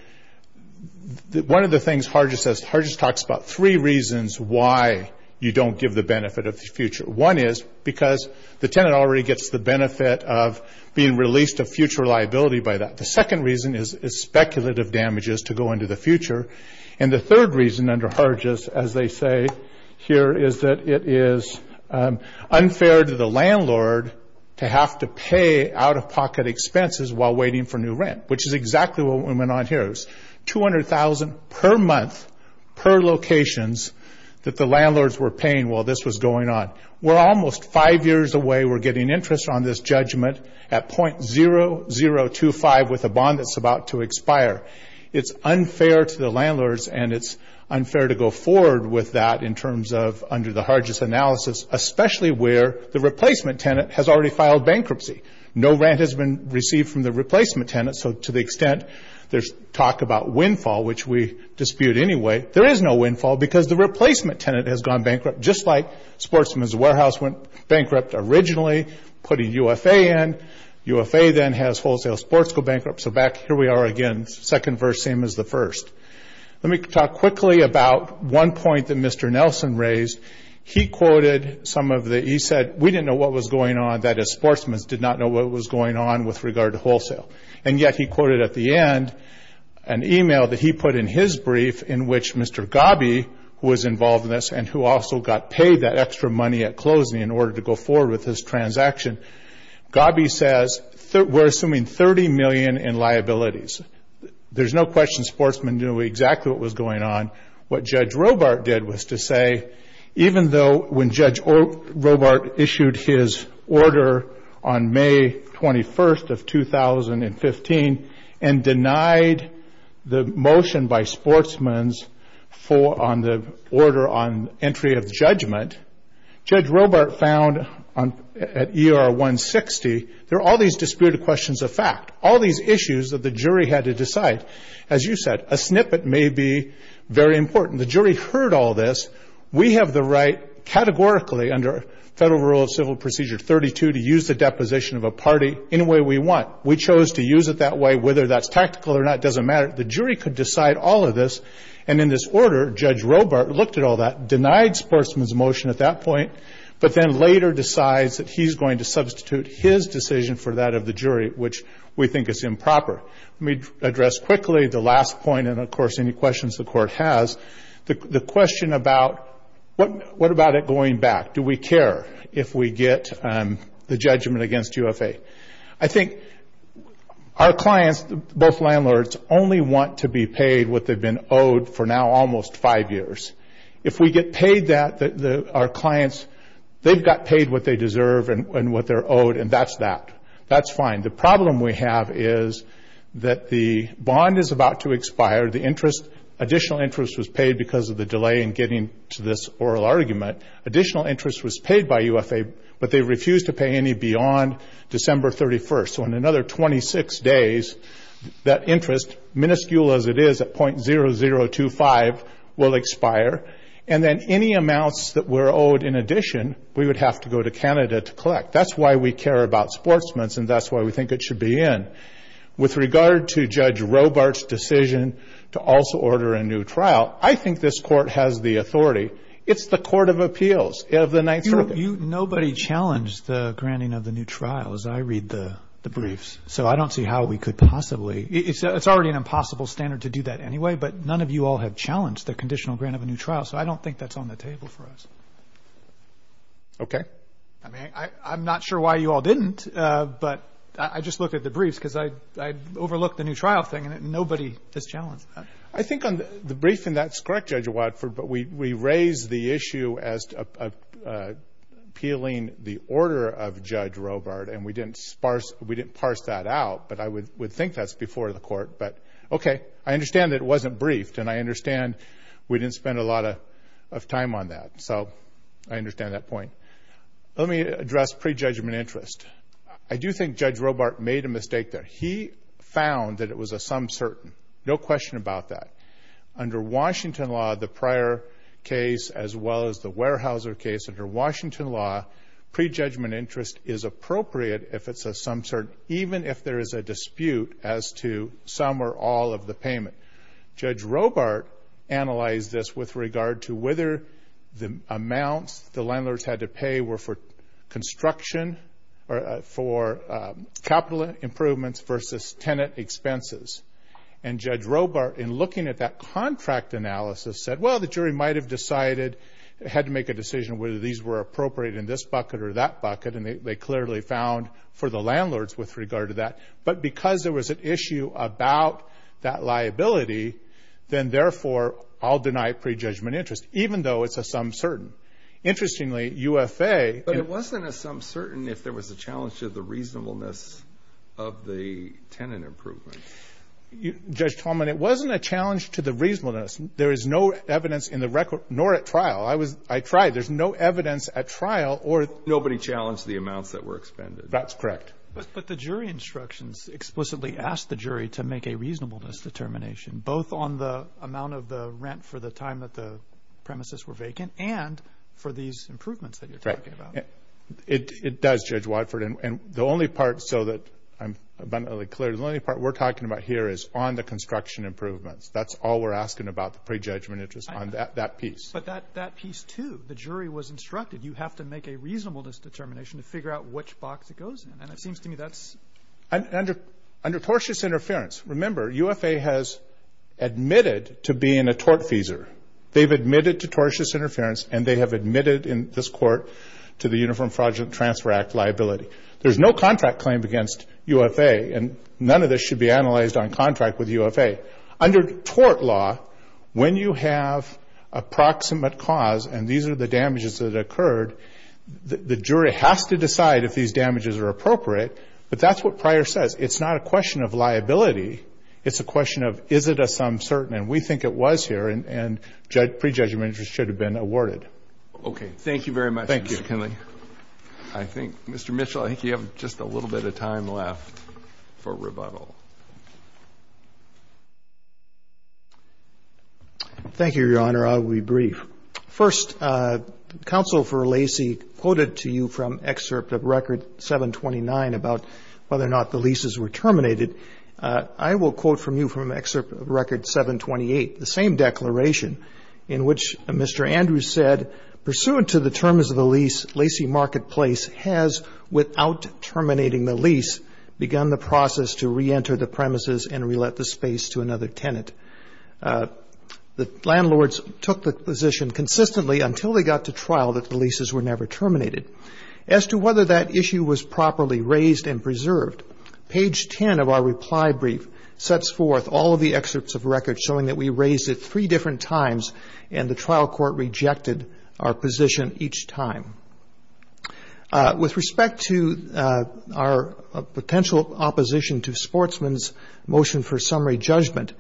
one of the things Hargis says, Hargis talks about three reasons why you don't give the benefit of the future. One is because the tenant already gets the benefit of being released of future liability by that. The second reason is speculative damages to go into the future. And the third reason under Hargis, as they say here, is that it is unfair to the landlord to have to pay out-of-pocket expenses while waiting for new rent, which is exactly what went on here. It was $200,000 per month per locations that the landlords were paying while this was going on. We're almost five years away. We're getting interest on this judgment at .0025 with a bond that's about to expire. It's unfair to the landlords, and it's unfair to go forward with that in terms of under the Hargis analysis, especially where the replacement tenant has already filed bankruptcy. No rent has been received from the replacement tenant, so to the extent there's talk about windfall, which we dispute anyway, there is no windfall because the replacement tenant has gone bankrupt, just like Sportsman's Warehouse went bankrupt originally, putting UFA in. UFA then has wholesale sports go bankrupt. So back here we are again, second verse, same as the first. Let me talk quickly about one point that Mr. Nelson raised. He quoted some of the – he said, we didn't know what was going on, that is, Sportsman's did not know what was going on with regard to wholesale. And yet he quoted at the end an email that he put in his brief in which Mr. Gobby was involved in this and who also got paid that extra money at closing in order to go forward with his transaction. Gobby says, we're assuming $30 million in liabilities. There's no question Sportsman knew exactly what was going on. What Judge Robart did was to say, even though when Judge Robart issued his order on May 21st of 2015 and denied the motion by Sportsman's on the order on entry of judgment, Judge Robart found at ER 160 there are all these disputed questions of fact, all these issues that the jury had to decide. As you said, a snippet may be very important. The jury heard all this. We have the right categorically under Federal Rule of Civil Procedure 32 to use the deposition of a party any way we want. We chose to use it that way. Whether that's tactical or not doesn't matter. The jury could decide all of this. In this order, Judge Robart looked at all that, denied Sportsman's motion at that point, but then later decides that he's going to substitute his decision for that of the jury, which we think is improper. Let me address quickly the last point and, of course, any questions the Court has. The question about what about it going back? Do we care if we get the judgment against UFA? I think our clients, both landlords, only want to be paid what they've been owed for now almost five years. If we get paid that, our clients, they've got paid what they deserve and what they're owed, and that's that. That's fine. The problem we have is that the bond is about to expire. The additional interest was paid because of the delay in getting to this oral argument. Additional interest was paid by UFA, but they refused to pay any beyond December 31st. So in another 26 days, that interest, minuscule as it is at .0025, will expire, and then any amounts that were owed in addition we would have to go to Canada to collect. That's why we care about Sportsman's, and that's why we think it should be in. With regard to Judge Robart's decision to also order a new trial, I think this Court has the authority. It's the Court of Appeals of the Ninth Circuit. Nobody challenged the granting of the new trial as I read the briefs, so I don't see how we could possibly. It's already an impossible standard to do that anyway, but none of you all have challenged the conditional grant of a new trial, so I don't think that's on the table for us. Okay. I mean, I'm not sure why you all didn't, but I just looked at the briefs because I overlooked the new trial thing, and nobody has challenged that. I think on the brief, and that's correct, Judge Watford, but we raised the issue as appealing the order of Judge Robart, and we didn't parse that out, but I would think that's before the Court. But, okay, I understand that it wasn't briefed, and I understand we didn't spend a lot of time on that, so I understand that point. Let me address prejudgment interest. I do think Judge Robart made a mistake there. He found that it was a some certain, no question about that. Under Washington law, the prior case, as well as the Weyerhaeuser case, under Washington law prejudgment interest is appropriate if it's a some certain, even if there is a dispute as to some or all of the payment. Judge Robart analyzed this with regard to whether the amounts the landlords had to pay were for construction or for capital improvements versus tenant expenses. And Judge Robart, in looking at that contract analysis, said, well, the jury might have decided, had to make a decision whether these were appropriate in this bucket or that bucket, and they clearly found for the landlords with regard to that. But because there was an issue about that liability, then, therefore, I'll deny prejudgment interest, even though it's a some certain. Interestingly, UFA. But it wasn't a some certain if there was a challenge to the reasonableness of the tenant improvement. Judge Tallman, it wasn't a challenge to the reasonableness. There is no evidence in the record, nor at trial. I tried. There's no evidence at trial or. Nobody challenged the amounts that were expended. That's correct. But the jury instructions explicitly asked the jury to make a reasonableness determination, both on the amount of the rent for the time that the premises were vacant and for these improvements that you're talking about. It does, Judge Wadford. And the only part, so that I'm abundantly clear, the only part we're talking about here is on the construction improvements. That's all we're asking about, the prejudgment interest on that piece. But that piece, too, the jury was instructed, you have to make a reasonableness determination to figure out which box it goes in. And it seems to me that's. Under tortious interference, remember, UFA has admitted to being a tortfeasor. They've admitted to tortious interference, and they have admitted in this court to the Uniform Fraudulent Transfer Act liability. There's no contract claim against UFA, and none of this should be analyzed on contract with UFA. Under tort law, when you have a proximate cause, and these are the damages that occurred, the jury has to decide if these damages are appropriate. But that's what Pryor says. It's not a question of liability. It's a question of is it a sum certain, and we think it was here, and prejudgment interest should have been awarded. Okay. Thank you very much, Mr. Kinley. Thank you. I think, Mr. Mitchell, I think you have just a little bit of time left for rebuttal. Thank you, Your Honor. I'll be brief. First, counsel for Lacey quoted to you from excerpt of Record 729 about whether or not the leases were terminated. I will quote from you from excerpt of Record 728, the same declaration in which Mr. Andrews said, pursuant to the terms of the lease, Lacey Marketplace has, without terminating the lease, begun the process to reenter the premises and relet the space to another tenant. The landlords took the position consistently until they got to trial that the leases were never terminated. As to whether that issue was properly raised and preserved, page 10 of our reply brief sets forth all of the excerpts of record showing that we raised it three different times and the trial court rejected our position each time. With respect to our potential opposition to Sportsman's motion for summary judgment,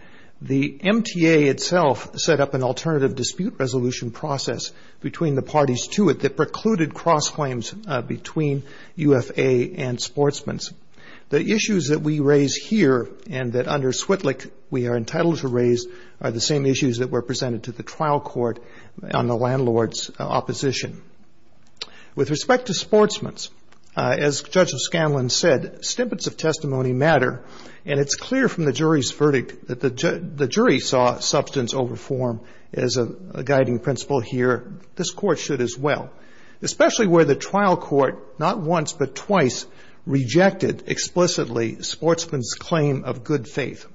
the MTA itself set up an alternative dispute resolution process between the parties to it that precluded cross-claims between UFA and Sportsman's. The issues that we raise here and that under Switlik we are entitled to raise are the same issues that were presented to the trial court on the landlord's opposition. With respect to Sportsman's, as Judge Scanlon said, snippets of testimony matter, and it's clear from the jury's verdict that the jury saw substance over form as a guiding principle here. This court should as well, especially where the trial court not once but twice rejected explicitly Sportsman's claim of good faith.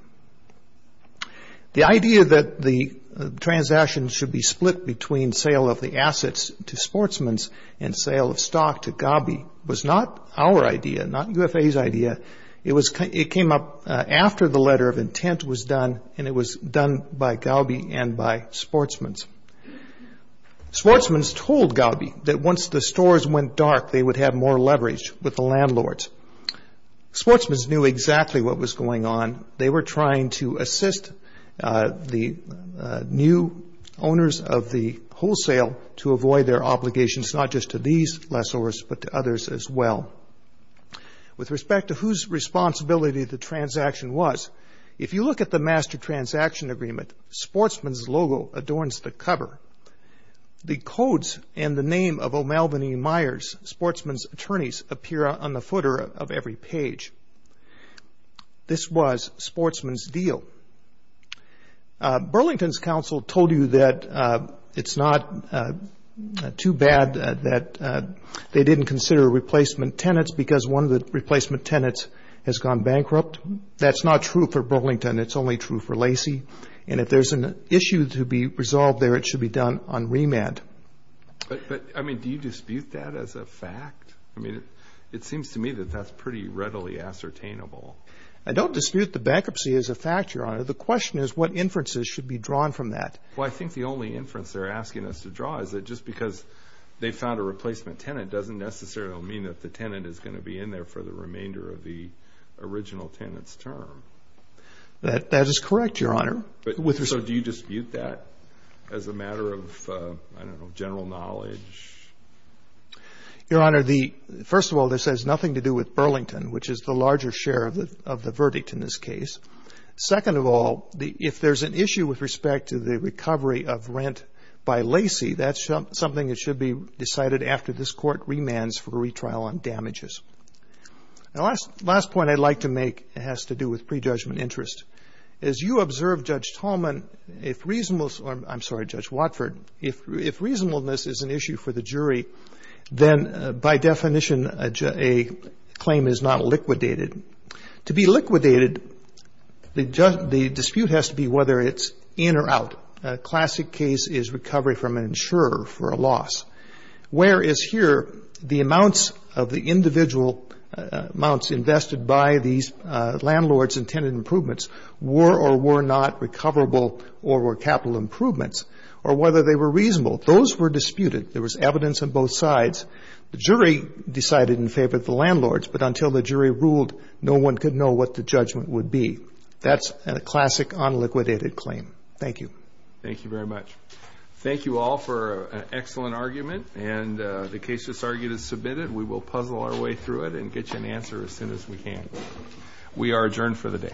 The idea that the transaction should be split between sale of the assets to Sportsman's and sale of stock to Gabi was not our idea, not UFA's idea. It came up after the letter of intent was done, and it was done by Gabi and by Sportsman's. Sportsman's told Gabi that once the stores went dark, they would have more leverage with the landlords. Sportsman's knew exactly what was going on. They were trying to assist the new owners of the wholesale to avoid their obligations, not just to these lessors but to others as well. With respect to whose responsibility the transaction was, if you look at the master transaction agreement, Sportsman's logo adorns the cover. The codes and the name of O'Malvin E. Myers, Sportsman's attorneys, appear on the footer of every page. This was Sportsman's deal. Burlington's counsel told you that it's not too bad that they didn't consider replacement tenants because one of the replacement tenants has gone bankrupt. That's not true for Burlington. It's only true for Lacey. And if there's an issue to be resolved there, it should be done on remand. But, I mean, do you dispute that as a fact? I mean, it seems to me that that's pretty readily ascertainable. I don't dispute the bankruptcy as a fact, Your Honor. The question is what inferences should be drawn from that. Well, I think the only inference they're asking us to draw is that just because they found a replacement tenant doesn't necessarily mean that the tenant is going to be in there for the remainder of the original tenant's term. That is correct, Your Honor. So do you dispute that as a matter of, I don't know, general knowledge? Your Honor, first of all, this has nothing to do with Burlington, which is the larger share of the verdict in this case. Second of all, if there's an issue with respect to the recovery of rent by Lacey, that's something that should be decided after this Court remands for a retrial on damages. The last point I'd like to make has to do with prejudgment interest. As you observe, Judge Tolman, if reasonableness or I'm sorry, Judge Watford, if reasonableness is an issue for the jury, then by definition a claim is not liquidated. To be liquidated, the dispute has to be whether it's in or out. A classic case is recovery from an insurer for a loss, whereas here the amounts of the individual amounts invested by these landlords and tenant improvements were or were not recoverable or were capital improvements or whether they were reasonable. Those were disputed. There was evidence on both sides. The jury decided in favor of the landlords, but until the jury ruled, no one could know what the judgment would be. That's a classic unliquidated claim. Thank you. Thank you very much. Thank you all for an excellent argument, and the case that's argued is submitted. We will puzzle our way through it and get you an answer as soon as we can. We are adjourned for the day.